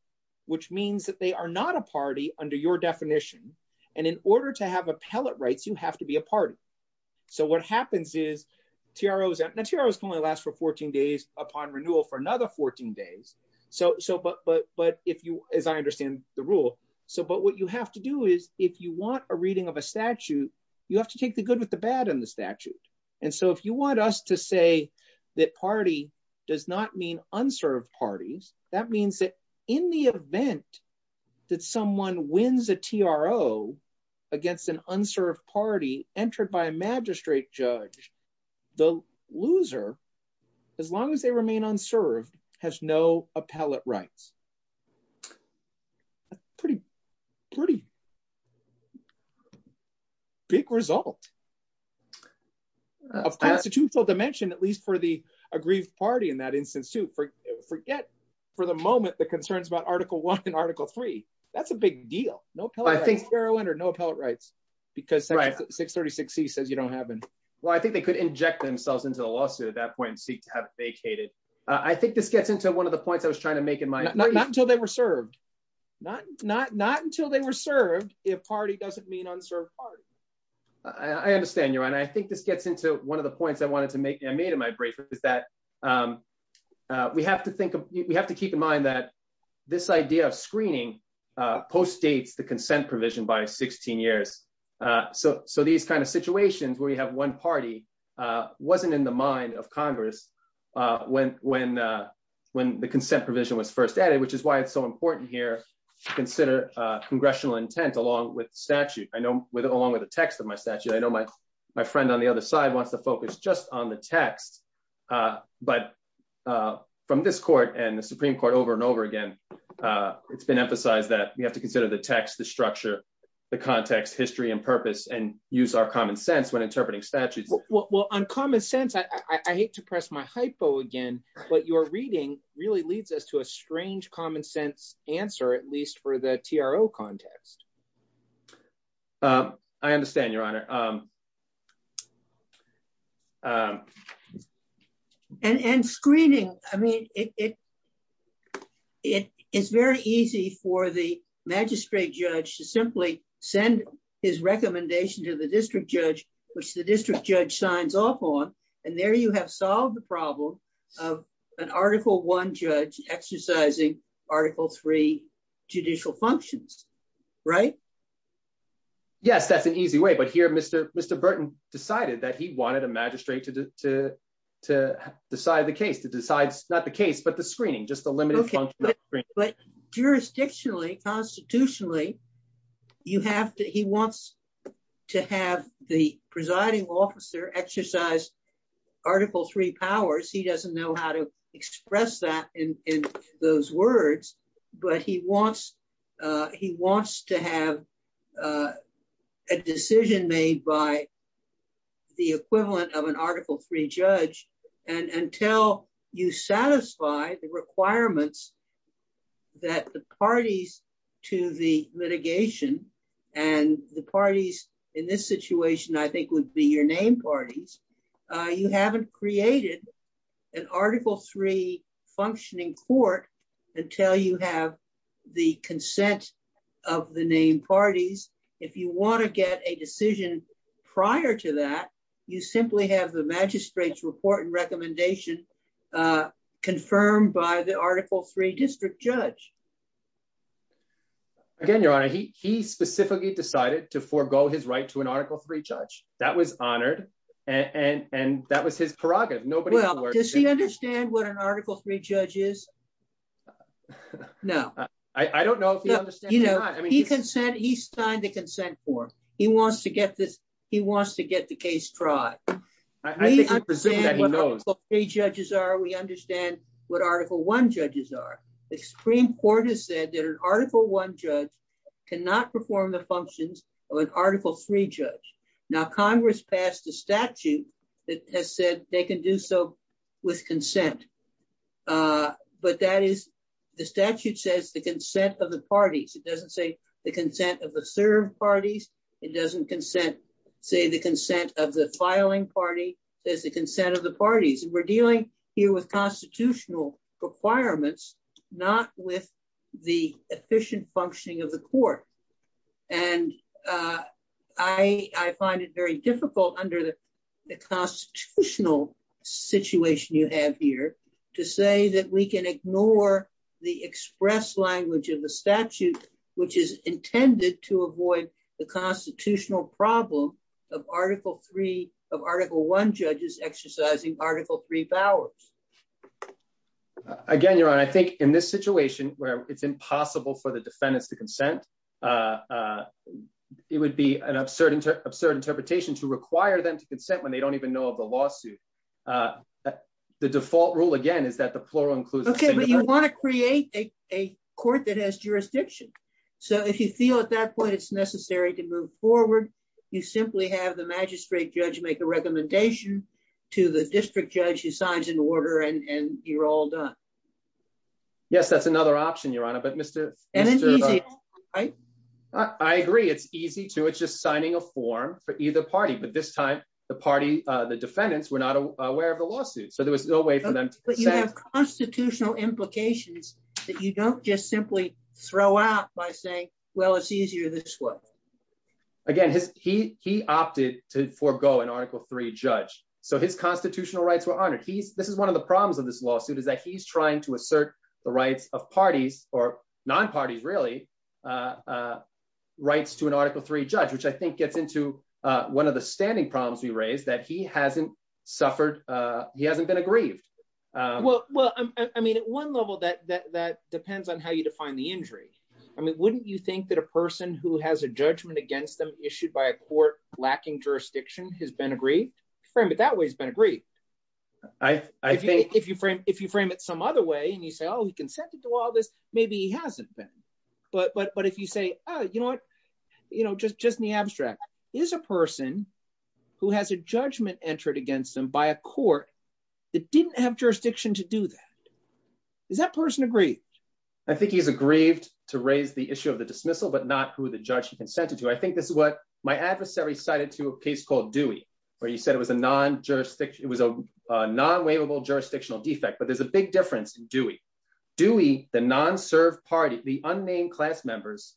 which means that they are not a party under your definition. And in order to have appellate rights, you have to be a party. So what happens is, TROs can only last for 14 days upon renewal for another 14 days. But if you, as I understand the rule, but what you have to do is, if you want a reading of a statute, and so if you want us to say that party does not mean unserved parties, that means that in the event that someone wins a TRO against an unserved party entered by a magistrate judge, the loser, as long as they remain unserved, has no appellate rights. That's a pretty, pretty big result. A constitutional dimension, at least for the aggrieved party in that instance, too. Forget, for the moment, the concerns about Article 1 and Article 3. That's a big deal. No appellate rights. I think, Caroline, there are no appellate rights because 636C says you don't have them. Well, I think they could inject themselves into the lawsuit at that point and seek to have it vacated. I think this gets into one of the points I wanted to make. Not until they were served. Not until they were served if party doesn't mean unserved parties. I understand you, and I think this gets into one of the points I wanted to make. I made in my brief is that we have to think, we have to keep in mind that this idea of screening postdates the consent provision by 16 years. So these kind of situations where you have one party wasn't in the mind of Congress when the consent provision was first added, which is why it's so important here to consider congressional intent along with statute, along with the text of my statute. I know my friend on the other side wants to focus just on the text, but from this court and the Supreme Court over and over again, it's been emphasized that we have to consider the text, the structure, the context, history, and purpose, and use our common sense when interpreting statutes. Well, on common sense, I hate to press my hypo again, but your reading really leads us to a strange common sense answer, at least for the TRO context. I understand, Your Honor. And screening, I mean, it's very easy for the magistrate judge to simply send his recommendation to the district judge, which the district judge signs off on, and there you have solved the problem of an Article I judge exercising Article III judicial functions, right? Yes, that's an easy way, but here Mr. Burton decided that he wanted a magistrate to decide the case, to decide, not the case, but the screening, just the limited- Okay, but jurisdictionally, constitutionally, he wants to have the presiding officer exercise Article III powers. He doesn't know how to express that in those words, but he wants to have a decision made by the equivalent of an Article III judge, and until you satisfy the requirements that the parties to the litigation, and the parties in this situation, I think, would be your named parties, you haven't created an Article III functioning court until you have the consent of the named parties. If you want to get a decision prior to that, you simply have the district judge. Again, Your Honor, he specifically decided to forego his right to an Article III judge. That was honored, and that was his prerogative. Well, does he understand what an Article III judge is? No. I don't know if he understands or not. He signed the consent form. He wants to get the case tried. We understand what Article I judges are, we understand what extreme court has said that an Article I judge cannot perform the functions of an Article III judge. Now, Congress passed a statute that has said they can do so with consent, but that is, the statute says the consent of the parties. It doesn't say the consent of the served parties. It doesn't say the consent of the filing party. It says the consent of the parties, and we're constitutional requirements, not with the efficient functioning of the court. And I find it very difficult under the constitutional situation you have here to say that we can ignore the express language of the statute, which is intended to avoid the constitutional problem of Article I judges exercising Article III powers. Again, Your Honor, I think in this situation where it's impossible for the defendants to consent, it would be an absurd interpretation to require them to consent when they don't even know of the lawsuit. The default rule, again, is that the plural includes- Okay, but you want to create a court that has jurisdiction. So if you feel at that point it's necessary to move forward, you simply have the magistrate judge make a recommendation to the district judge who signs an order, and you're all done. Yes, that's another option, Your Honor, but Mr.- I agree, it's easy to, it's just signing a form for either party. But this time, the party, the defendants were not aware of the lawsuit. So there was no way for them- But you have constitutional implications that you don't just simply throw out by saying, well, it's easier this way. Again, he opted to forego an Article III judge. So his constitutional rights were honored. This is one of the problems of this lawsuit, is that he's trying to assert the rights of parties, or non-parties, really, rights to an Article III judge, which I think gets into one of the standing problems we raised, that he hasn't suffered, he hasn't been aggrieved. Well, I mean, at one level, that depends on how you define the injury. I mean, wouldn't you think that a person who has a judgment against them issued by a court lacking jurisdiction has been aggrieved? Frame it that way, he's been aggrieved. I think- If you frame it some other way, and you say, oh, he consented to all this, maybe he hasn't been. But if you say, oh, you know what, just in the abstract, is a person who has a judgment entered against them by a court that didn't have jurisdiction to do that, does that person agree? I think he's aggrieved to raise the issue of the dismissal, but not who the judge consented to. I think that's what my adversary cited to a case called Dewey, where he said it was a non-waivable jurisdictional defect. But there's a big difference in Dewey. Dewey, the non-served party, the unnamed class members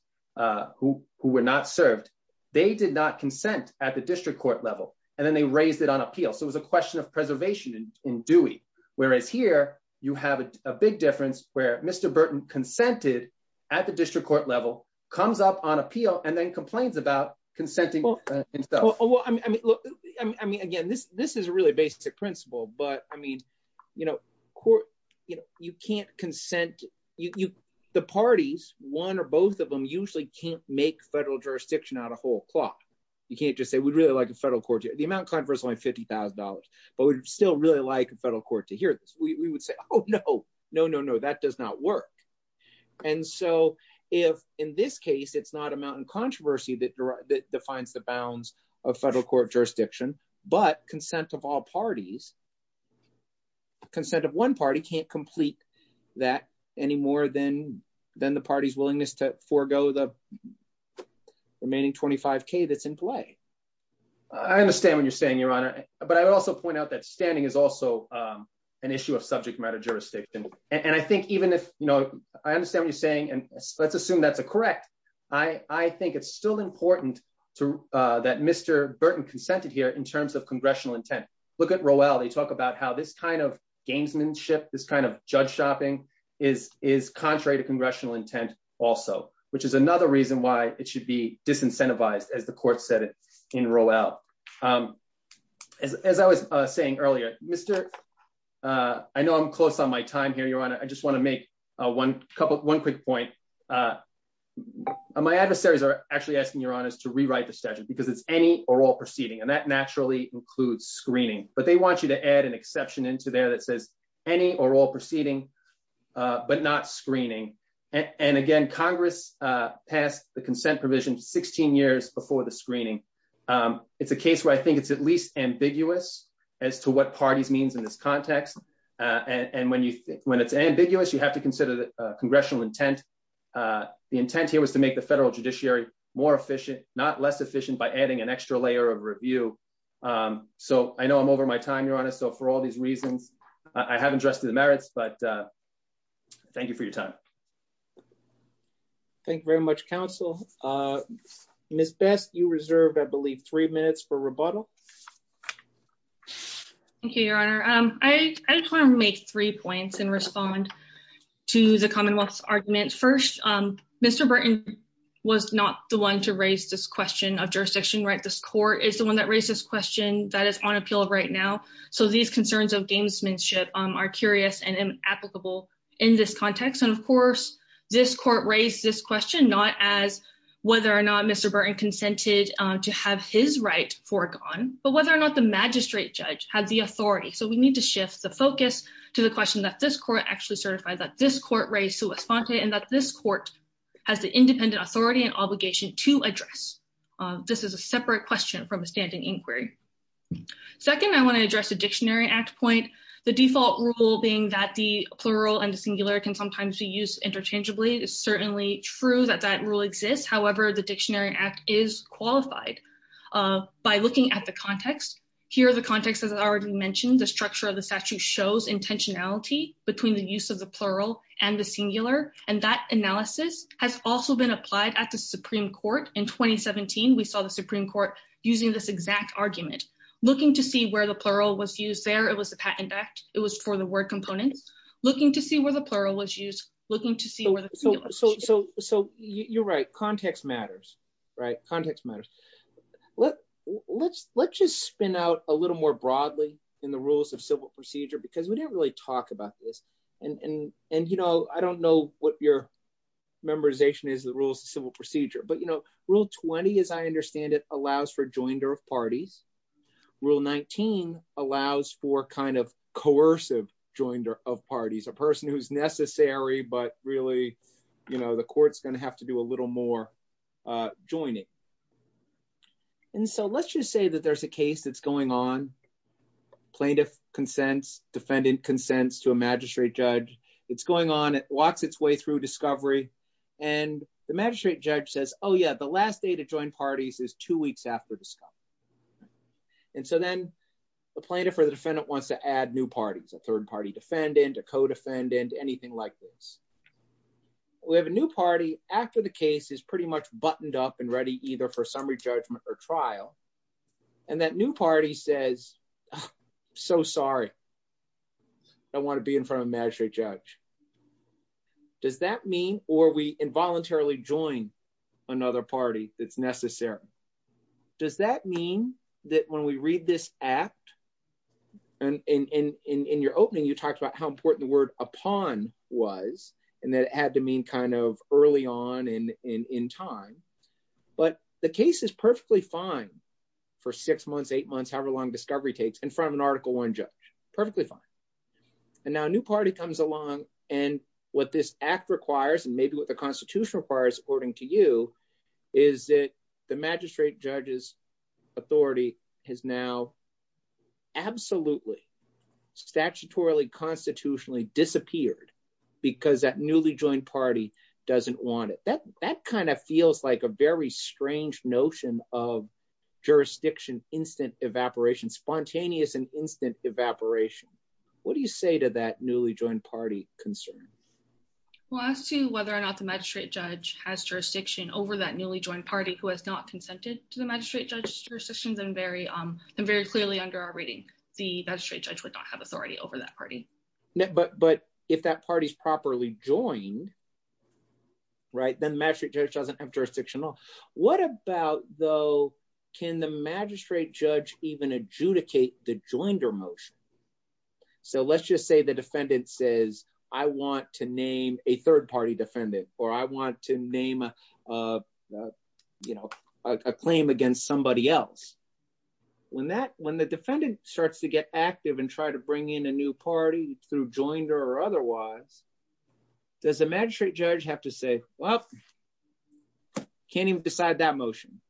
who were not served, they did not consent at the district court level, and then they raised it on appeal. So it was a question of preservation in Dewey. Whereas here, you have a big difference, where Mr. Burton consented at the district court level, comes up on appeal, and then complains about consenting himself. Well, I mean, look, I mean, again, this is really a basic principle. But I mean, you can't consent. The parties, one or both of them, usually can't make federal jurisdiction out of whole cloth. You can't just say, we'd really like a federal court. The amount of controversy is only $50,000, but we'd still really like a federal court to hear this. We would say, oh, no, no, no, no, that does not work. And so in this case, it's not a mountain controversy that defines the bounds of federal court jurisdiction. But consent of all parties, consent of one party can't complete that any more than the party's willingness to forego the remaining $25,000 that's in play. I understand what you're saying, Your Honor. But I would also point out that standing is also an issue of subject matter jurisdiction. And I think even if, you know, I understand what you're saying, and let's assume that's correct. I think it's still important that Mr. Burton consented here in terms of congressional intent. Look at Rowell. They talk about how this kind of gamesmanship, this kind of judge shopping is contrary to congressional intent also, which is another reason why it should be disincentivized, as the court said it in Rowell. As I was saying earlier, I know I'm close on my time here, Your Honor. I just want to make one quick point. My adversaries are actually asking, Your Honor, to rewrite the statute because it's any or all proceeding. And that naturally includes screening. But they want you to add an exception into there that says any or all proceeding, but not screening. And again, Congress passed the consent provision 16 years before the screening. It's a case where I think it's at least ambiguous as to what parties means in this context. And when it's ambiguous, you have to consider the congressional intent. The intent here was to make the federal judiciary more efficient, not less efficient by adding an extra layer of review. So I know I'm over my time, Your Honor. So for all these reasons, I haven't addressed the merits, but thank you for your time. Thank you very much, counsel. Ms. Beth, you reserve, I believe, three minutes for rebuttal. Thank you, Your Honor. I just want to make three points and respond to the commonwealth's arguments. First, Mr. Burton was not the one to raise this question of jurisdiction. This court is the one that raised this question that is on appeal right now. So these concerns of gamesmanship are curious and inapplicable in this context. And of course, this court raised this question, not as whether or not Mr. Burton consented to have his right foregone, but whether or not the magistrate judge had the authority. So we need to shift the focus to the question that this court actually certified, that this court raised to LaFontaine, and that this court has the independent authority and obligation to address. This is a separate question from a standing inquiry. Second, I want to address the Dictionary Act point. The default rule being that the is certainly true that that rule exists. However, the Dictionary Act is qualified by looking at the context. Here, the context, as I already mentioned, the structure of the statute shows intentionality between the use of the plural and the singular. And that analysis has also been applied at the Supreme Court. In 2017, we saw the Supreme Court using this exact argument, looking to see where the plural was used there. It was the patent act. It was for word component, looking to see where the plural was used, looking to see where the singular was. So you're right. Context matters, right? Context matters. Let's just spin out a little more broadly in the rules of civil procedure, because we didn't really talk about this. And I don't know what your memorization is, the rules of civil procedure. But Rule 20, as I understand it, allows for joined parties, a person who's necessary, but really, the court's going to have to do a little more joining. And so let's just say that there's a case that's going on, plaintiff consents, defendant consents to a magistrate judge. It's going on, it walks its way through discovery. And the magistrate judge says, oh yeah, the last day to join parties is two weeks after discovery. And so then the plaintiff or the defendant wants to add new parties, a third party defendant, a co-defendant, anything like this. We have a new party after the case is pretty much buttoned up and ready either for summary judgment or trial. And that new party says, so sorry, I don't want to be in front of a magistrate judge. Does that mean, or we involuntarily join another party that's necessary? Does that mean that when we read this act, and in your opening, you talked about how important the word upon was, and that it had to mean kind of early on in time. But the case is perfectly fine for six months, eight months, however long discovery takes, in front of an Article I judge, perfectly fine. And now a new part, as according to you, is that the magistrate judge's authority has now absolutely, statutorily, constitutionally disappeared because that newly joined party doesn't want it. That kind of feels like a very strange notion of jurisdiction, instant evaporation, spontaneous and instant evaporation. What do you say to that newly joined party concern? Well, I see whether or not the magistrate judge has jurisdiction over that newly joined party who has not consented to the magistrate judge's jurisdiction, then very clearly under our reading, the magistrate judge would not have authority over that party. But if that party's properly joined, right, then the magistrate judge doesn't have jurisdiction at all. What about, though, can the magistrate judge even adjudicate the joinder motion? So let's just say the defendant says, I want to name a third party defendant, or I want to name a, you know, a claim against somebody else. When that, when the defendant starts to get active and try to bring in a new party through joinder or otherwise, does the magistrate judge have to say, well, can't even decide that motion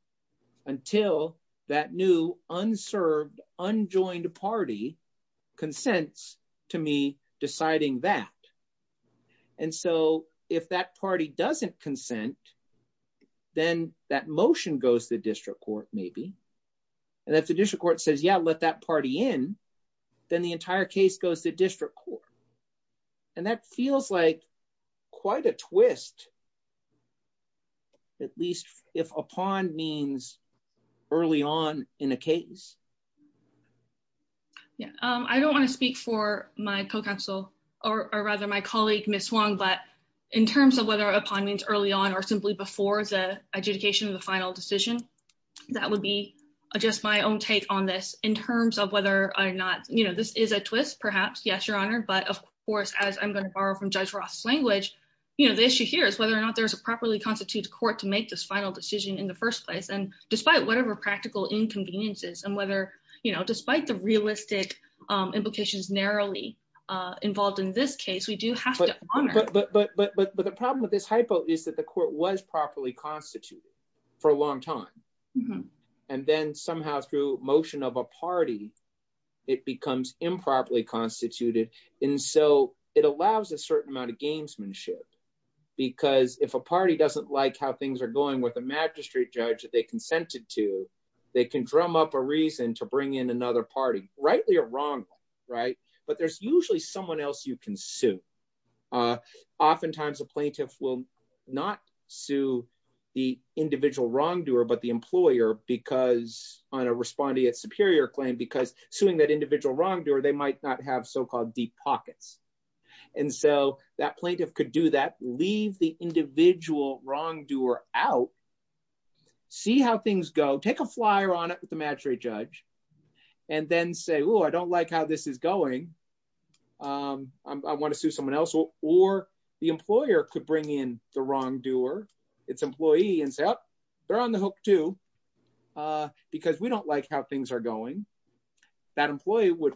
until that new unserved, unjoined party consents to me deciding that. And so if that party doesn't consent, then that motion goes to district court, maybe. And if the district court says, yeah, let that party in, then the entire case goes to district court. And that feels like quite a twist, at least if upon means early on in a case. Yeah, I don't want to speak for my co-counsel, or rather my colleague, Ms. Hwang, but in terms of whether upon means early on or simply before the adjudication of the final decision, that would be just my own take on this in terms of whether or not, you know, this is a twist, perhaps, yes, Your Honor. But of course, as I'm going to borrow from Judge Ross' language, you know, the issue here is whether or not there's a properly constituted court to make this final decision in the first place. And despite whatever practical inconveniences and whether, you know, despite the realistic implications narrowly involved in this case, we do have to honor- But the problem with this hypo is that the court was properly constituted for a long time. And then somehow through motion of a party, it becomes improperly constituted. And so it allows a certain amount of gamesmanship. Because if a party doesn't like how things are consented to, they can drum up a reason to bring in another party, rightly or wrongly, right? But there's usually someone else you can sue. Oftentimes, a plaintiff will not sue the individual wrongdoer, but the employer because on a respondeat superior claim, because suing that individual wrongdoer, they might not have so-called deep pockets. And so that plaintiff could do that, leave the individual wrongdoer out, see how things go, take a flyer on it with the matric judge, and then say, oh, I don't like how this is going. I want to sue someone else. Or the employer could bring in the wrongdoer, its employee and say, oh, they're on the hook too, because we don't like how things are going. That employee would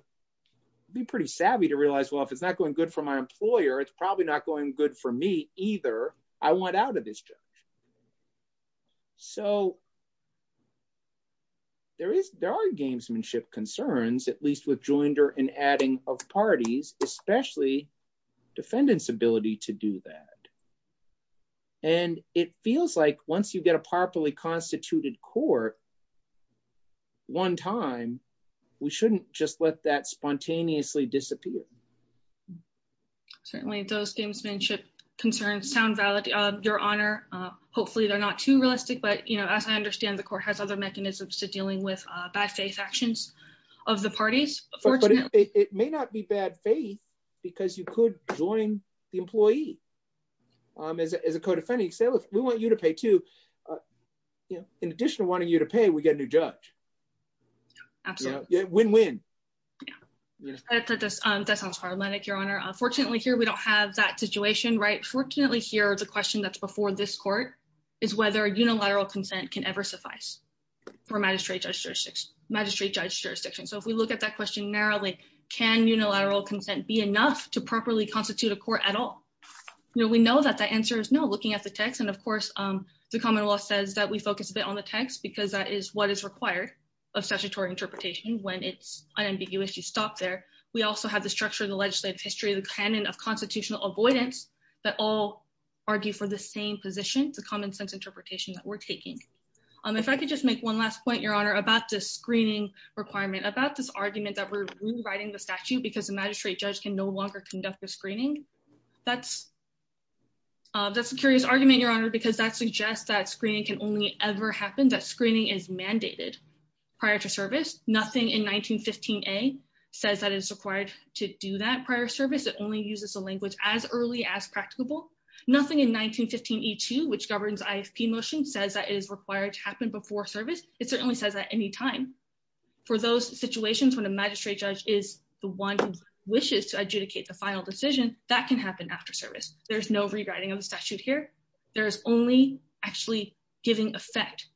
be pretty savvy to realize, well, if it's not going good for my employer, it's probably not going good for me either. I want out of this judge. So there are gamesmanship concerns, at least with joinder and adding of parties, especially defendant's ability to do that. And it feels like once you get a properly constituted court, one time, we shouldn't just let that spontaneously disappear. Certainly those gamesmanship concerns sound valid, Your Honor. Hopefully they're not too realistic, but as I understand, the court has other mechanisms to dealing with bad faith actions of the parties. But it may not be bad faith because you could join the employee. As a we get a new judge. Absolutely. Win-win. That sounds hard, Your Honor. Fortunately here, we don't have that situation. Fortunately here, the question that's before this court is whether unilateral consent can ever suffice for magistrate judge jurisdiction. So if we look at that question narrowly, can unilateral consent be enough to properly constitute a court at all? We know that the answer is no, looking at the text. And of course, the common law says that we focus a bit on the text because that is what is required of statutory interpretation when it's unambiguous. You stop there. We also have the structure of the legislative history, the canon of constitutional avoidance that all argue for the same position for common sense interpretation that we're taking. If I could just make one last point, Your Honor, about this screening requirement, about this argument that we're rewriting the statute because the magistrate judge can no longer conduct the screening. That's a curious argument, Your Honor, because that suggests that screening can only ever happen, that screening is mandated prior to service. Nothing in 1915a says that it's required to do that prior service. It only uses the language as early as practicable. Nothing in 1915e2, which governs ISP motion, says that it is required to happen before service. It certainly says that any time. For those situations when a magistrate judge is the one who wishes to that can happen after service. There's no rewriting of the statute here. There's only actually giving effect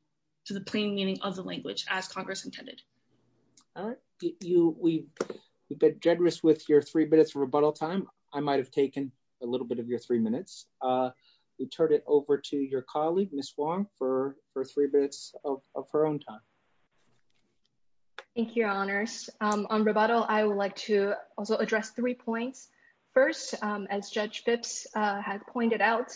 to the plain meaning of the language as Congress intended. All right. You've been generous with your three minutes of rebuttal time. I might have taken a little bit of your three minutes. We turn it over to your colleague, Ms. Wong, for three minutes of her own time. Thank you, Your Honors. On rebuttal, I would to also address three points. First, as Judge Phipps has pointed out,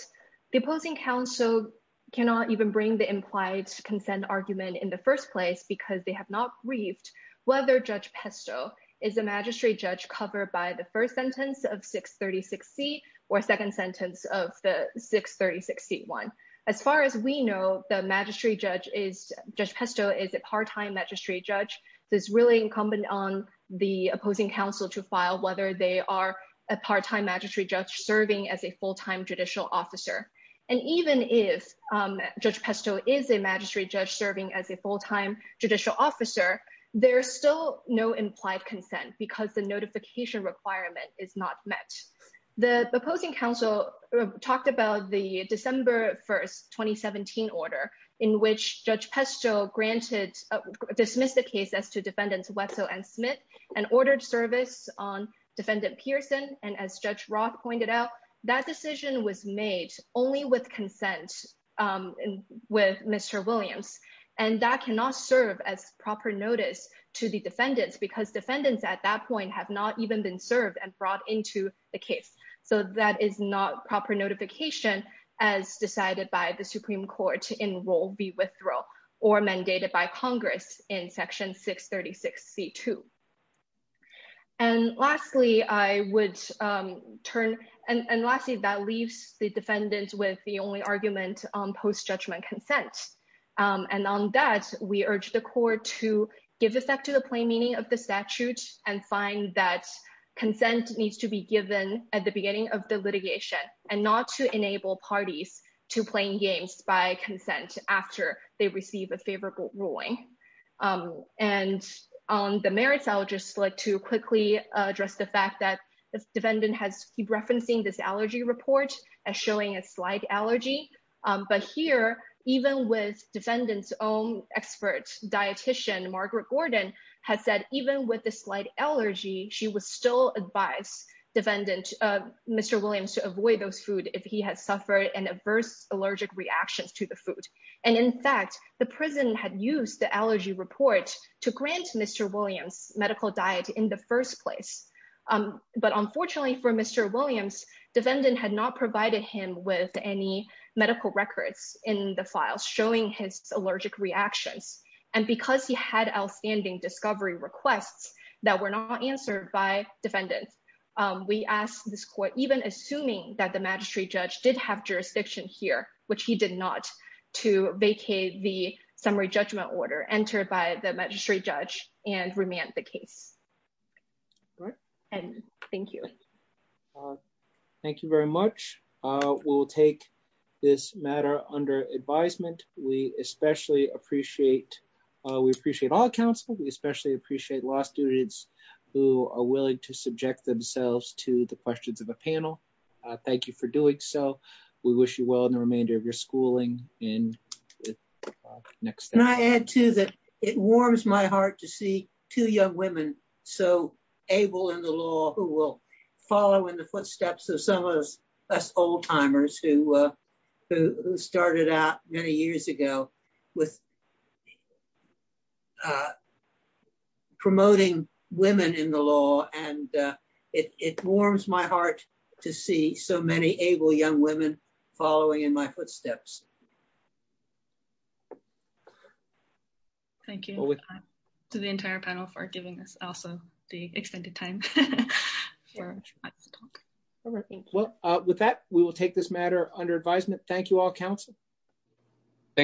the opposing counsel cannot even bring the implied consent argument in the first place because they have not briefed whether Judge Pesto is a magistrate judge covered by the first sentence of 636c or second sentence of the 636c1. As far as we know, Judge Pesto is a part-time magistrate judge. It's really incumbent on the opposing counsel to file whether they are a part-time magistrate judge serving as a full-time judicial officer. Even if Judge Pesto is a magistrate judge serving as a full-time judicial officer, there's still no implied consent because the notification requirement is not met. The opposing counsel talked about the December 1, 2017 order in which Judge Pesto granted, dismissed the case as to defendants Hueso and Smith and ordered service on defendant Pearson. As Judge Roth pointed out, that decision was made only with consent with Mr. Williams. That cannot serve as proper notice to the defendants because defendants at that point have not even been served and brought into the case. That is not proper notification as decided by the Supreme Court in Rule v. Withdrawal or mandated by Congress in Section 636c2. And lastly, that leaves the defendants with the only argument on post-judgment consent. And on that, we urge the court to give effect to the plain meaning of the statutes and find that parties to plain games by consent after they receive a favorable ruling. And on the Maris-Aldrich split to quickly address the fact that the defendant has keep referencing this allergy report as showing a slight allergy. But here, even with defendant's own expert dietician, Margaret Gordon, has said even with the slight allergy, she would still advise defendant Mr. Williams to avoid those food if he has suffered an adverse allergic reaction to the food. And in fact, the prison had used the allergy report to grant Mr. Williams medical diet in the first place. But unfortunately for Mr. Williams, defendant had not provided him with any medical records in the file showing his allergic reaction. And because he had outstanding discovery requests that were not answered by defendants, we ask this court, even assuming that the magistrate judge did have jurisdiction here, which he did not, to vacate the summary judgment order entered by the magistrate judge and remand the case. And thank you. Thank you very much. We'll take this matter under advisement. We especially appreciate, we appreciate all counsel. We especially appreciate law students who are willing to subject themselves to the questions of the panel. Thank you for doing so. We wish you well in the remainder of your schooling. And next time. Can I add too that it warms my heart to see two young women so able in the law who will follow in the footsteps of some of us old timers who started out many years ago with promoting women in the law. And it warms my heart to see so many able young women following in my footsteps. Thank you to the entire panel for giving us also the time. Well, with that, we will take this matter under advisement. Thank you all counsel. Thank